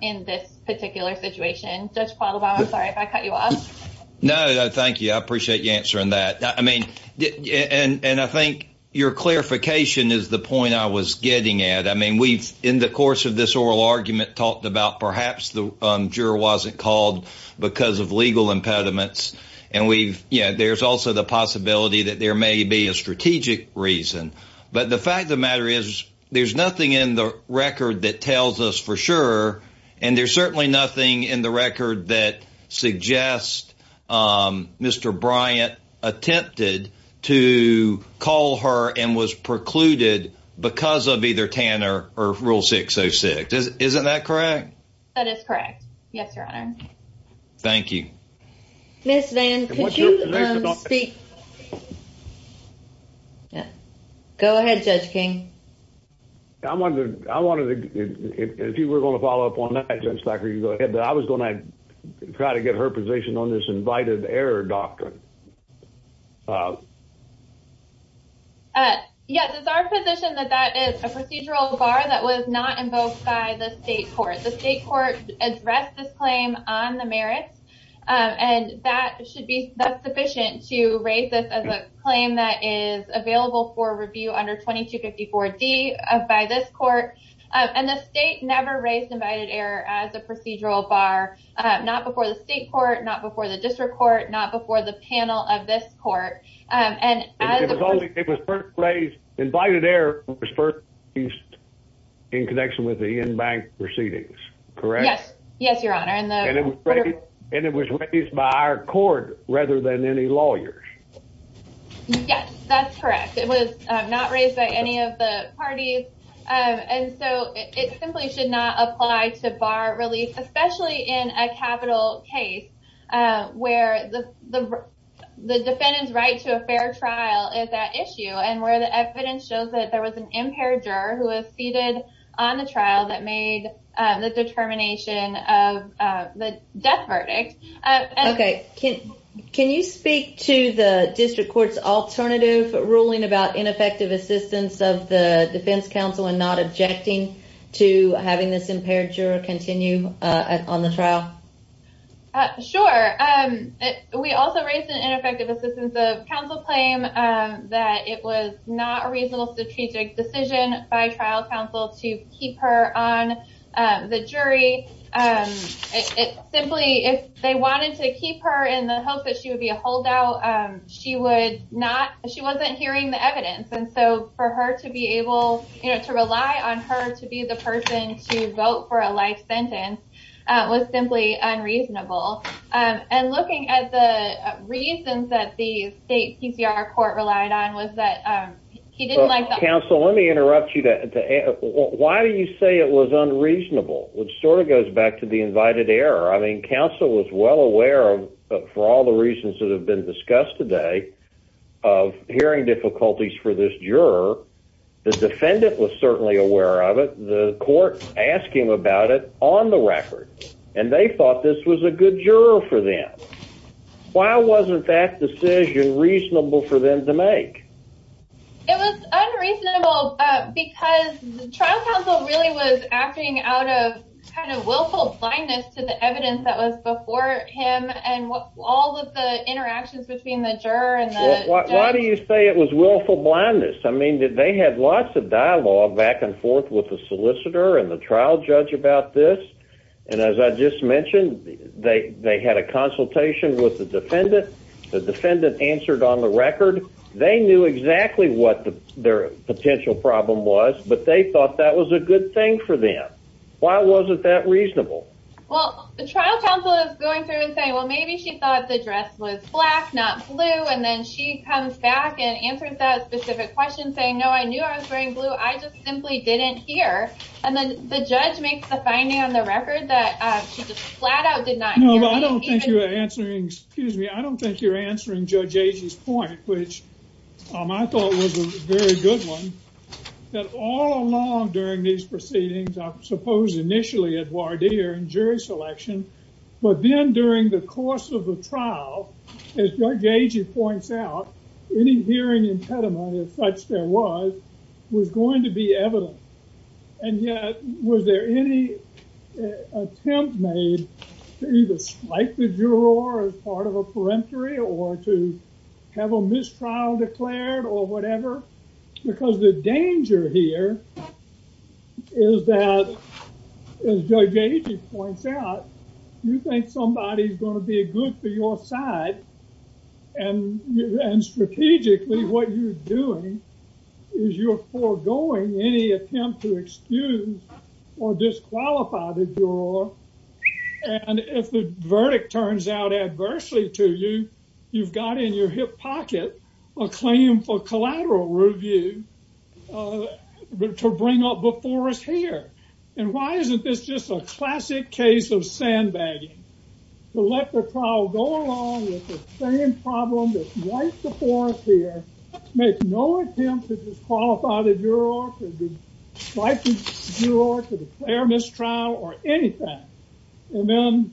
in this particular situation. Judge Paul Obama, I'm sorry if I cut you off. No, thank you. I appreciate you answering that. And I think your clarification is the point I was getting at. I mean, we've in the course of this oral argument talked about perhaps the juror wasn't called because of legal impediments. And there's also the possibility that there may be a strategic reason. But the fact of the matter is there's nothing in the record that tells us for sure. And there's certainly nothing in the record that suggests Mr. Bryant attempted to call her and was precluded because of either Tanner or Rule 606. Isn't that correct? That is correct. Yes, Your Honor. Thank you. Ms. Van, could you speak? Go ahead, Judge King. I wanted to, if you were going to follow up on that, Judge Thacker, you go ahead. I was going to try to get her position on this invited error doctrine. Yes, it's our position that that is a procedural bar that was not invoked by the state court. The state court addressed this claim on the merits, and that should be sufficient to raise this as a claim that is available for review under 2254 D by this court. And the state never raised invited error as a procedural bar, not before the state court, not before the district court, not before the panel of this court. And it was first raised, invited error was first used in connection with the in-bank proceedings. Correct? Yes, Your Honor. And it was raised by our court rather than any lawyers. Yes, that's correct. It was not raised by any of the parties. And so it simply should not apply to bar release, especially in a capital case where the, the defendant's right to a fair trial is that issue and where the evidence shows that there was an impaired juror who was seated on the trial that made the determination of the death verdict. Okay. Can you speak to the district court's alternative ruling about ineffective assistance of the defense counsel and not objecting to having this impaired juror continue on the trial? Sure. We also raised an ineffective assistance of counsel claim that it was not a reasonable strategic decision by trial counsel to keep her on the jury. It simply, if they wanted to keep her in the hopes that she would be a holdout, she would not, she wasn't hearing the evidence. And so for her to be able to rely on her to be the person to vote for a life sentence was simply unreasonable. And looking at the reasons that the state PCR court relied on was that he didn't like the- Counsel, let me interrupt you. Why do you say it was unreasonable? Which sort of goes back to the invited error. I mean, counsel was well aware of for all the reasons that have been discussed today of hearing difficulties for this juror. The defendant was certainly aware of it. The court asked him about it on the record, and they thought this was a good juror for them. Why wasn't that decision reasonable for them to make? It was unreasonable because the trial counsel really was acting out of kind of willful blindness to the evidence that was before him. And all of the interactions between the juror and the judge. Why do you say it was willful blindness? I mean, did they have lots of dialogue back and forth with the solicitor and the trial judge about this? And as I just mentioned, they had a consultation with the defendant. The defendant answered on the record. They knew exactly what their potential problem was, but they thought that was a good thing for them. Why wasn't that reasonable? Well, the trial counsel is going through and saying, well, maybe she thought the dress was black, not blue. And then she comes back and answers that specific question saying, no, I knew I was wearing blue. I just simply didn't hear. And then the judge makes the finding on the record that she just flat out did not. I don't think you're answering, excuse me. I don't think you're answering Judge Agee's point, which I thought was a very good one that all along during these proceedings, I suppose initially at voir dire and jury selection, but then during the course of the trial, as Judge Agee points out, any hearing impediment as such there was, was going to be evident. And yet, was there any attempt made to either strike the juror as part of a peremptory or to have a mistrial declared or whatever? Because the danger here is that as Judge Agee points out, you think somebody's going to be a good for your side. And strategically what you're doing is you're foregoing any attempt to excuse or disqualify the juror. And if the verdict turns out adversely to you, you've got in your hip pocket a claim for collateral review to bring up before us here. And why isn't this just a classic case of sandbagging? To let the trial go along with the same problem that's right before us here, make no attempt to disqualify the juror, to strike the juror, to declare mistrial or anything. And then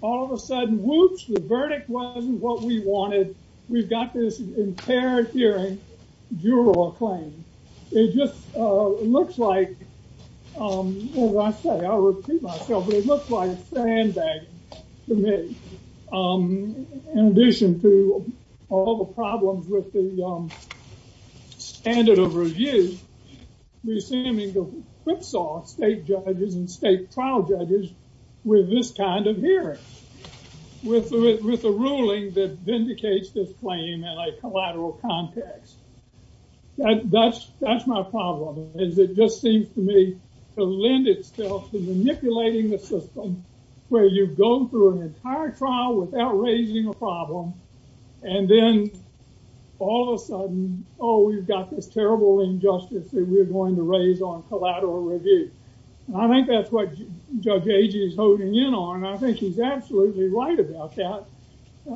all of a sudden, whoops, the verdict wasn't what we wanted. We've got this impaired hearing, juror claim. It just looks like, as I say, I repeat myself, but it looks like a sandbag to me. In addition to all the problems with the standard of review, we're seeming to whipsaw state judges and state trial judges with this kind of hearing, with a ruling that vindicates this claim in a collateral context. That's my problem, is it just seems to me to lend itself to manipulating the system where you go through an entire trial without raising a problem. And then all of a sudden, Oh, we've got this terrible injustice that we're going to raise on collateral review. And I think that's what judge is holding in on. And I think he's absolutely right about that.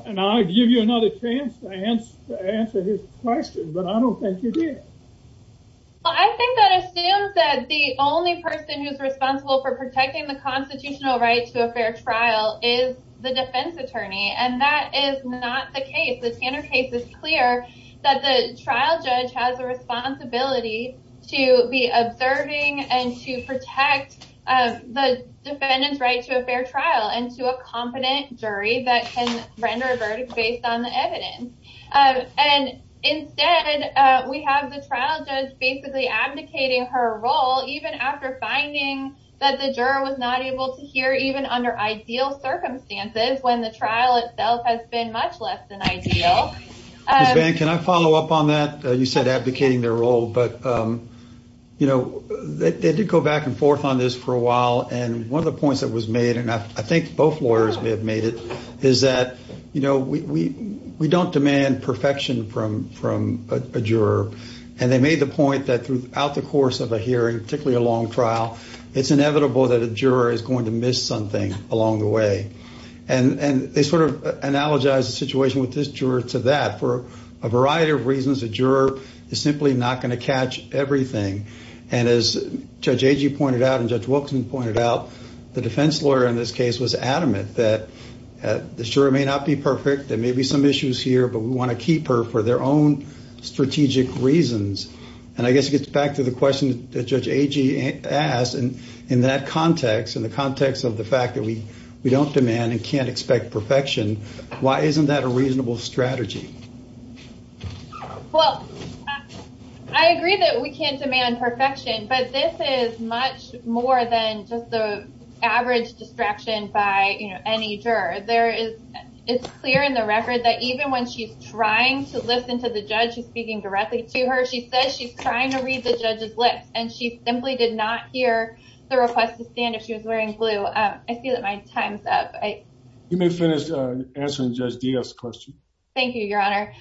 And I'll give you another chance to answer his question, but I don't think you did. Well, I think that assumes that the only person who's responsible for protecting the constitutional right to a fair trial is the defense attorney. And that is not the case. The standard case is clear that the trial judge has a responsibility to be observing and to protect the defendant's right to a fair trial and to a competent jury that can render a verdict based on the evidence. And instead we have the trial judge basically abdicating her role, even after finding that the juror was not able to hear even under ideal circumstances when the trial itself has been much less than ideal. Can I follow up on that? You said advocating their role, but you know, they did go back and forth on this for a while. And one of the points that was made, and I think both lawyers may have made it is that, you know, we, we, we don't demand perfection from, from a juror. And they made the point that throughout the course of a hearing, particularly a long trial, it's inevitable that a juror is going to miss something along the way. And, and they sort of analogize the situation with this juror to that for a variety of reasons, a juror is simply not going to catch everything. And as Judge Agee pointed out and Judge Wilkinson pointed out, the defense lawyer in this case was adamant that the jury may not be perfect. There may be some issues here, but we want to keep her for their own strategic reasons. And I guess it gets back to the question that Judge Agee asked. And in that context, in the context of the fact that we don't demand and can't expect perfection, why isn't that a reasonable strategy? Well, I agree that we can't demand perfection, but this is much more than just the average distraction by any juror. There is, it's clear in the record that even when she's trying to listen to the judge, she's speaking directly to her. She says she's trying to read the judge's lips and she simply did not hear the request to stand if she was wearing blue. I see that my time's up. You may finish answering Judge Diaz's question. Thank you, Your Honor.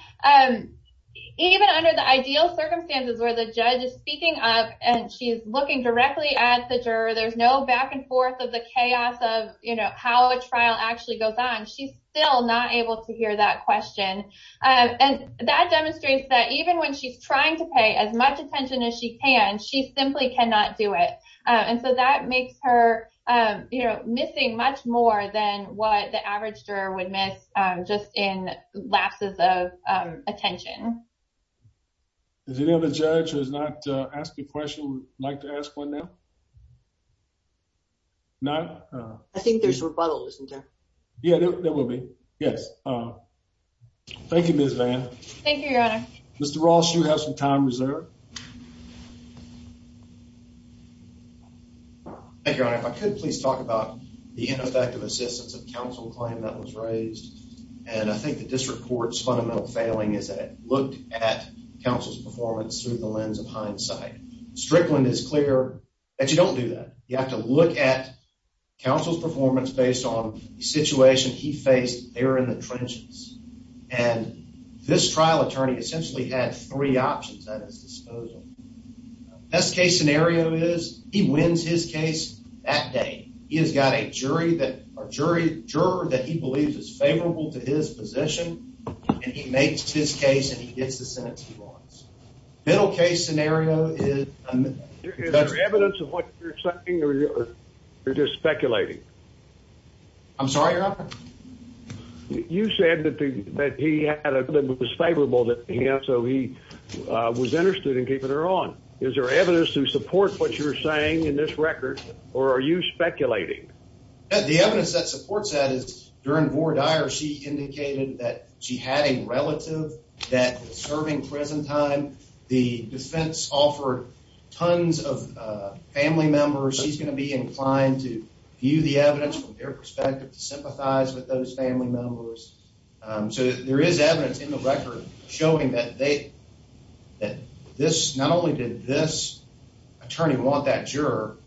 Even under the ideal circumstances where the judge is speaking up and she's looking directly at the juror, there's no back and forth of the chaos of, you know, how a trial actually goes on. She's still not able to hear that question. And that demonstrates that even when she's trying to pay as much attention as she can, she simply cannot do it. And so that makes her, you know, missing much more than what the average juror would miss just in lapses of attention. Does any other judge who has not asked a question like to ask one now? I think there's rebuttal, isn't there? Yeah, there will be. Yes. Thank you, Ms. Vann. Thank you, Your Honor. Mr. Ross, you have some time reserved. Thank you, Your Honor. If I could please talk about the ineffective assistance of counsel claim that was raised. And I think the district court's fundamental failing is that it looked at counsel's performance through the lens of hindsight. Strickland is clear that you don't do that. You have to look at counsel's performance based on the situation he faced there in the trenches. And this trial attorney essentially had three options at his disposal. Best case scenario is he wins his case that day. He has got a jury that, or jury, juror that he believes is favorable to his position. And he makes his case and he gets the sentence he wants. Middle case scenario is... Is there evidence of what you're saying or you're just speculating? I'm sorry, Your Honor? You said that he had a case that was favorable to him, so he was interested in keeping her on. Is there evidence to support what you're saying in this record, or are you speculating? The evidence that supports that is during Vora Dyer, she indicated that she had a relative that was serving prison time. The defense offered tons of family members. She's going to be inclined to view the evidence from their perspective to sympathize with those family members. So there is evidence in the record showing that this, not only did this attorney want that juror,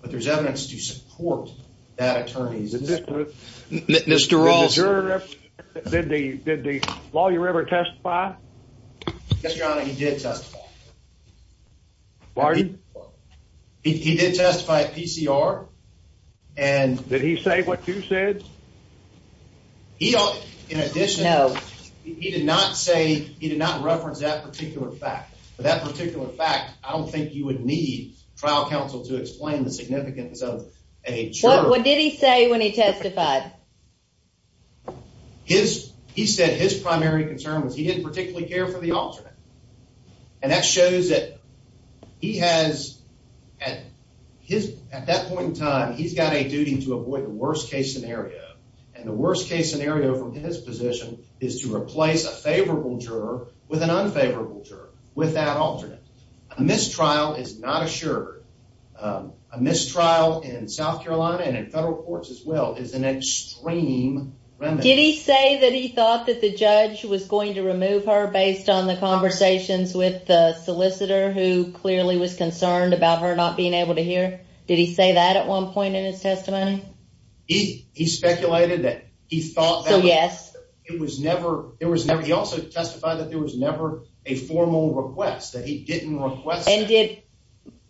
but there's evidence to support that attorney. Mr. Rawls... Did the juror ever testify? Yes, Your Honor, he did testify. Pardon? He did testify at PCR. Did he say what you said? No. He did not reference that particular fact. For that particular fact, I don't think you would need trial counsel to explain the significance of a juror. What did he say when he testified? He said his primary concern was he didn't particularly care for the alternate. And that shows that he has, at that point in time, he's got a duty to avoid the worst-case scenario. And the worst-case scenario from his position is to replace a favorable juror with an unfavorable juror with that alternate. A mistrial is not assured. A mistrial in South Carolina and in federal courts as well is an extreme remedy. Did he say that he thought that the judge was going to remove her based on the conversations with the solicitor, who clearly was concerned about her not being able to hear? Did he say that at one point in his testimony? He speculated that he thought that... So, yes. He also testified that there was never a formal request, that he didn't request that.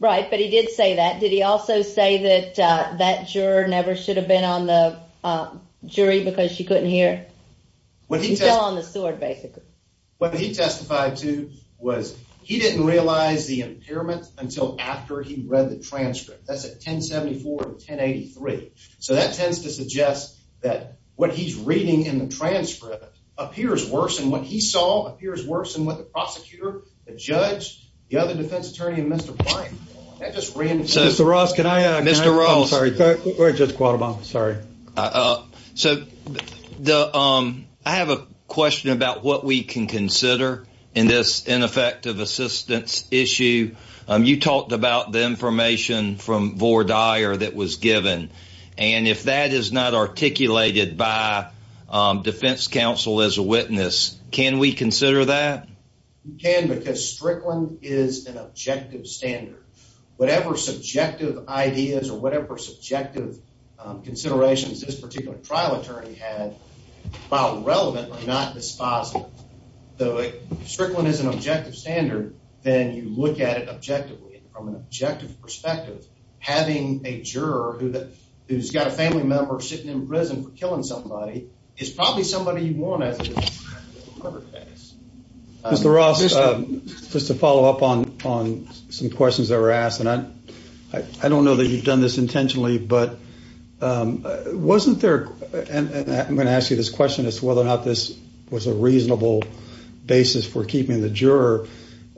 Right, but he did say that. Did he also say that that juror never should have been on the jury because she couldn't hear? Okay. He fell on the sword, basically. What he testified to was he didn't realize the impairment until after he read the transcript. That's at 1074 and 1083. So that tends to suggest that what he's reading in the transcript appears worse than what he saw, appears worse than what the prosecutor, the judge, the other defense attorney, and Mr. Bryant saw. That just reinforces... Mr. Ross, can I... Mr. Ross. I'm sorry. Go ahead, Judge Quattlebaum. Sorry. So, I have a question about what we can consider in this ineffective assistance issue. You talked about the information from Vore Dyer that was given, and if that is not articulated by defense counsel as a witness, can we consider that? You can because Strickland is an objective standard. Whatever subjective ideas or whatever subjective considerations this particular trial attorney had, while relevant, are not dispositive. So if Strickland is an objective standard, then you look at it objectively. From an objective perspective, having a juror who's got a family member sitting in prison for killing somebody is probably somebody you want as a case. Mr. Ross, just to follow up on some questions that were asked, and I don't know that you've done this intentionally, but wasn't there... I'm going to ask you this question as to whether or not this was a reasonable basis for keeping the juror.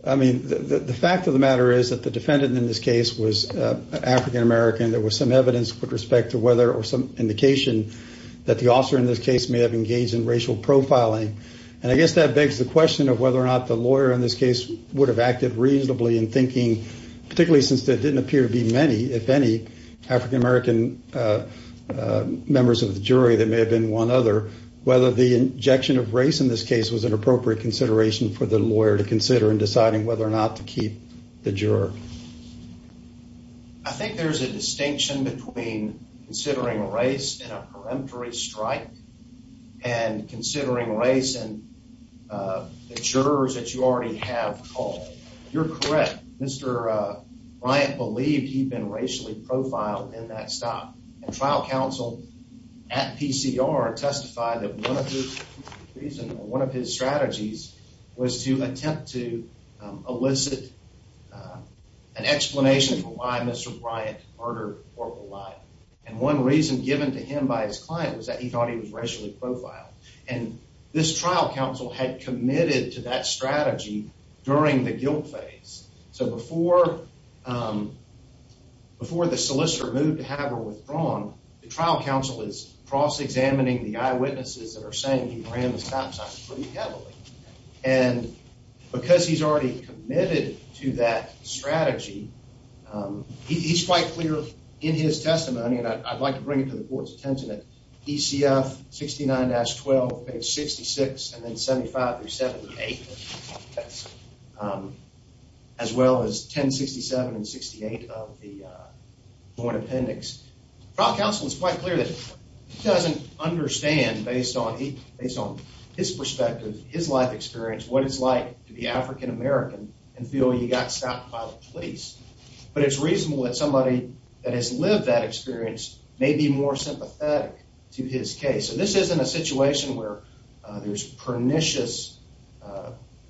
I mean, the fact of the matter is that the defendant in this case was an African-American. There was some evidence with respect to whether or some indication that the officer in this case may have engaged in racial profiling, and I guess that begs the question of whether or not the lawyer in this case would have acted reasonably in thinking, particularly since there didn't appear to be many, if any, African-American members of the jury that may have been one other, whether the injection of race in this case was an appropriate consideration for the lawyer to consider in deciding whether or not to keep the juror. I think there's a distinction between considering race in a peremptory strike and considering race in the jurors that you already have called. You're correct. Mr. Bryant believed he'd been racially profiled in that stop, and trial counsel at PCR testified that one of his strategies was to attempt to elicit an explanation for why Mr. Bryant murdered or relied. And one reason given to him by his client was that he thought he was racially profiled. And this trial counsel had committed to that strategy during the guilt phase. So before the solicitor moved to have her withdrawn, the trial counsel is cross-examining the eyewitnesses that are saying he ran the stop sign pretty heavily. And because he's already committed to that strategy, he's quite clear in his testimony, and I'd like to bring it to the court's attention, that DCF 69-12, page 66, and then 75-78, as well as 1067 and 68 of the joint appendix. Trial counsel is quite clear that he doesn't understand, based on his perspective, his life experience, what it's like to be African American and feel you got stopped by the police. But it's reasonable that somebody that has lived that experience may be more sympathetic to his case. And this isn't a situation where there's pernicious...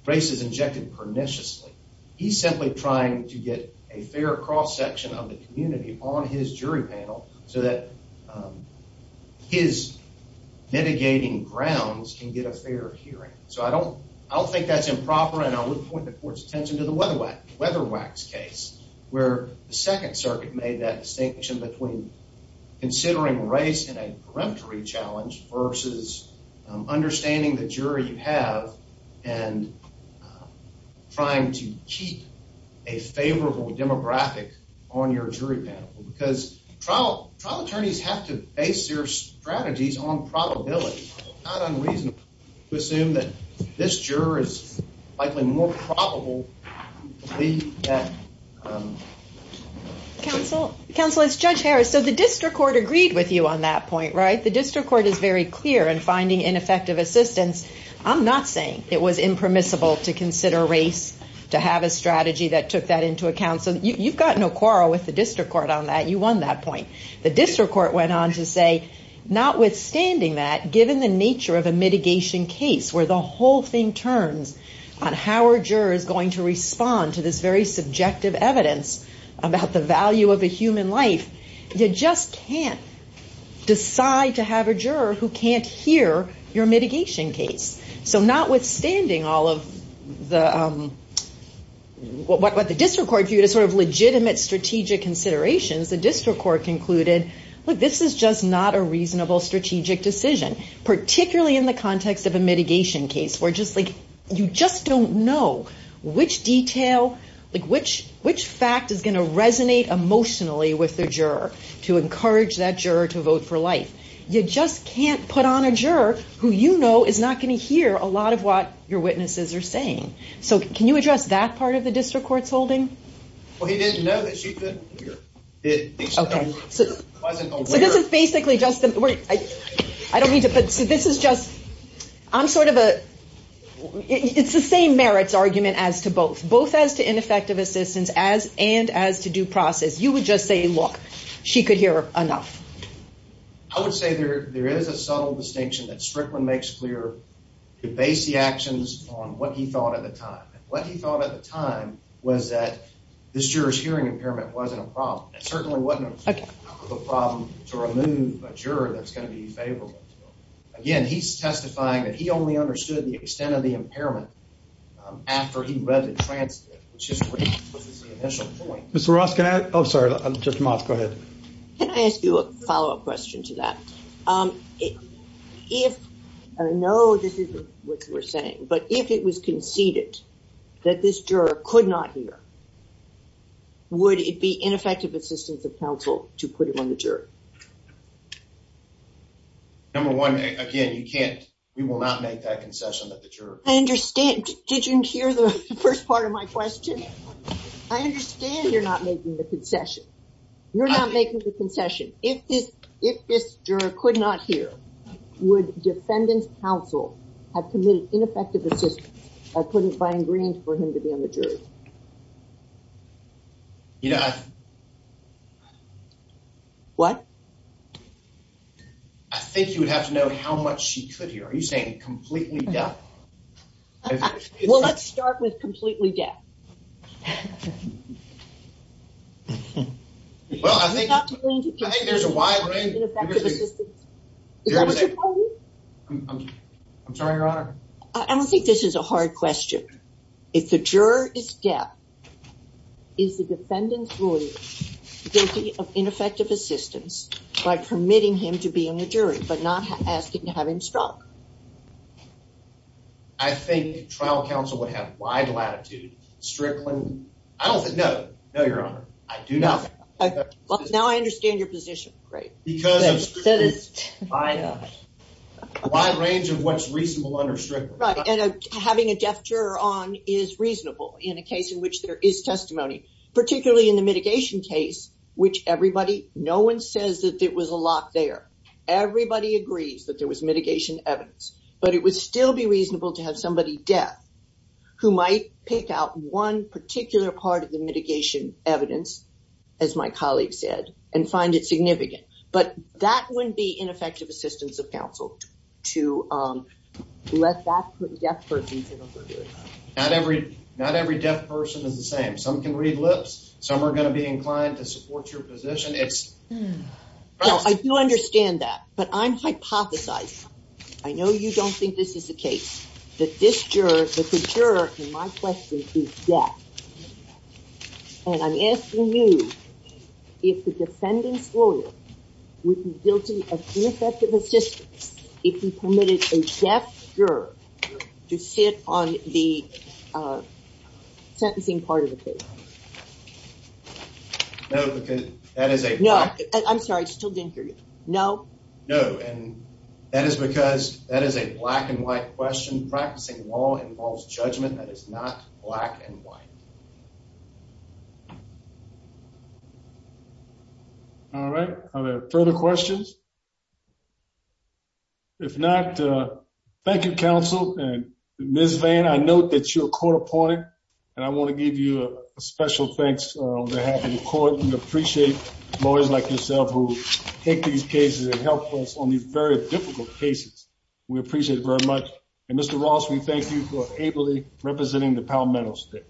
race is injected perniciously. He's simply trying to get a fair cross-section of the community on his jury panel so that his mitigating grounds can get a fair hearing. So I don't think that's improper, and I would point the court's attention to the Weatherwax case, where the Second Circuit made that distinction between considering race in a peremptory challenge versus understanding the jury you have and trying to keep a favorable demographic on your jury panel. Because trial attorneys have to base their strategies on probability. It's not unreasonable to assume that this juror is likely more probable than that. Counsel, it's Judge Harris. So the district court agreed with you on that point, right? The district court is very clear in finding ineffective assistance. I'm not saying it was impermissible to consider race, to have a strategy that took that into account. So you've got no quarrel with the district court on that. You won that point. The district court went on to say, notwithstanding that, given the nature of a mitigation case where the whole thing turns on how a juror is going to respond to this very subjective evidence about the value of a human life, you just can't decide to have a juror who can't hear your mitigation case. So notwithstanding all of what the district court viewed as sort of legitimate strategic considerations, the district court concluded, look, this is just not a reasonable strategic decision, particularly in the context of a mitigation case where you just don't know which detail, which fact is going to resonate emotionally with the juror to encourage that juror to vote for life. You just can't put on a juror who you know is not going to hear a lot of what your witnesses are saying. So can you address that part of the district court's holding? Well, he didn't know that she couldn't hear. Okay. So this is basically just a... I don't mean to put... So this is just... I'm sort of a... It's the same merits argument as to both. Both as to ineffective assistance and as to due process. You would just say, look, she could hear enough. I would say there is a subtle distinction that Strickland makes clear to base the actions on what he thought at the time. What he thought at the time was that this juror's hearing impairment wasn't a problem. It certainly wasn't a problem to remove a juror that's going to be favorable. Again, he's testifying that he only understood the extent of the impairment after he read the transcript, which is the initial point. Mr. Ross, can I... Oh, sorry. Judge Moss, go ahead. Can I ask you a follow-up question to that? If... I know this isn't what you were saying, but if it was conceded that this juror could not hear, would it be ineffective assistance of counsel to put him on the jury? Number one, again, you can't... We will not make that concession that the juror... I understand. Did you hear the first part of my question? I understand you're not making the concession. You're not making the concession. If this juror could not hear, would defendant's counsel have committed ineffective assistance if I couldn't find reason for him to be on the jury? What? I think you would have to know how much she could hear. Are you saying completely deaf? Well, let's start with completely deaf. Well, I think there's a wide range... I'm sorry, Your Honor. I don't think this is a hard question. If the juror is deaf, is the defendant's lawyer guilty of ineffective assistance by permitting him to be on the jury, but not asking to have him struck? I think trial counsel would have wide latitude, strictly... I don't think... No. No, Your Honor. I do not think... Well, now I understand your position. Great. Because of... Wide range of what's reasonable under strict... Right, and having a deaf juror on is reasonable in a case in which there is testimony, particularly in the mitigation case, which everybody... No one says that there was a lock there. Everybody agrees that there was mitigation evidence, but it would still be reasonable to have somebody deaf who might pick out one particular part of the mitigation evidence, as my colleague said, and find it significant. But that wouldn't be ineffective assistance of counsel to let that deaf person sit on the jury. Not every deaf person is the same. Some can read lips. Some are going to be inclined to support your position. It's... I do understand that, but I'm hypothesizing. I know you don't think this is the case, that this juror, that the juror in my question is deaf. And I'm asking you, if the defendant's lawyer would be guilty of ineffective assistance if he permitted a deaf juror to sit on the sentencing part of the case. No, because that is a... No, I'm sorry, I still didn't hear you. No? No, and that is because that is a black and white question. Practicing law involves judgment that is not black and white. All right. Are there further questions? If not, thank you, counsel. And Ms. Vann, I note that you're a court appointed, and I want to give you a special thanks on behalf of the court. We appreciate lawyers like yourself who take these cases and help us on these very difficult cases. We appreciate it very much. And Mr. Ross, we thank you for ably representing the Parliament House today.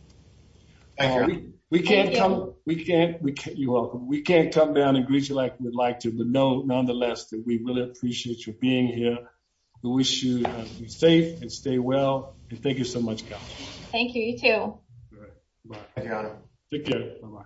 Thank you. We can't come... Thank you. You're welcome. We can't come down and greet you like we'd like to, but nonetheless, we really appreciate you being here. We wish you to be safe and stay well. And thank you so much, counsel. Thank you, you too. All right. Bye. Take care. Bye-bye.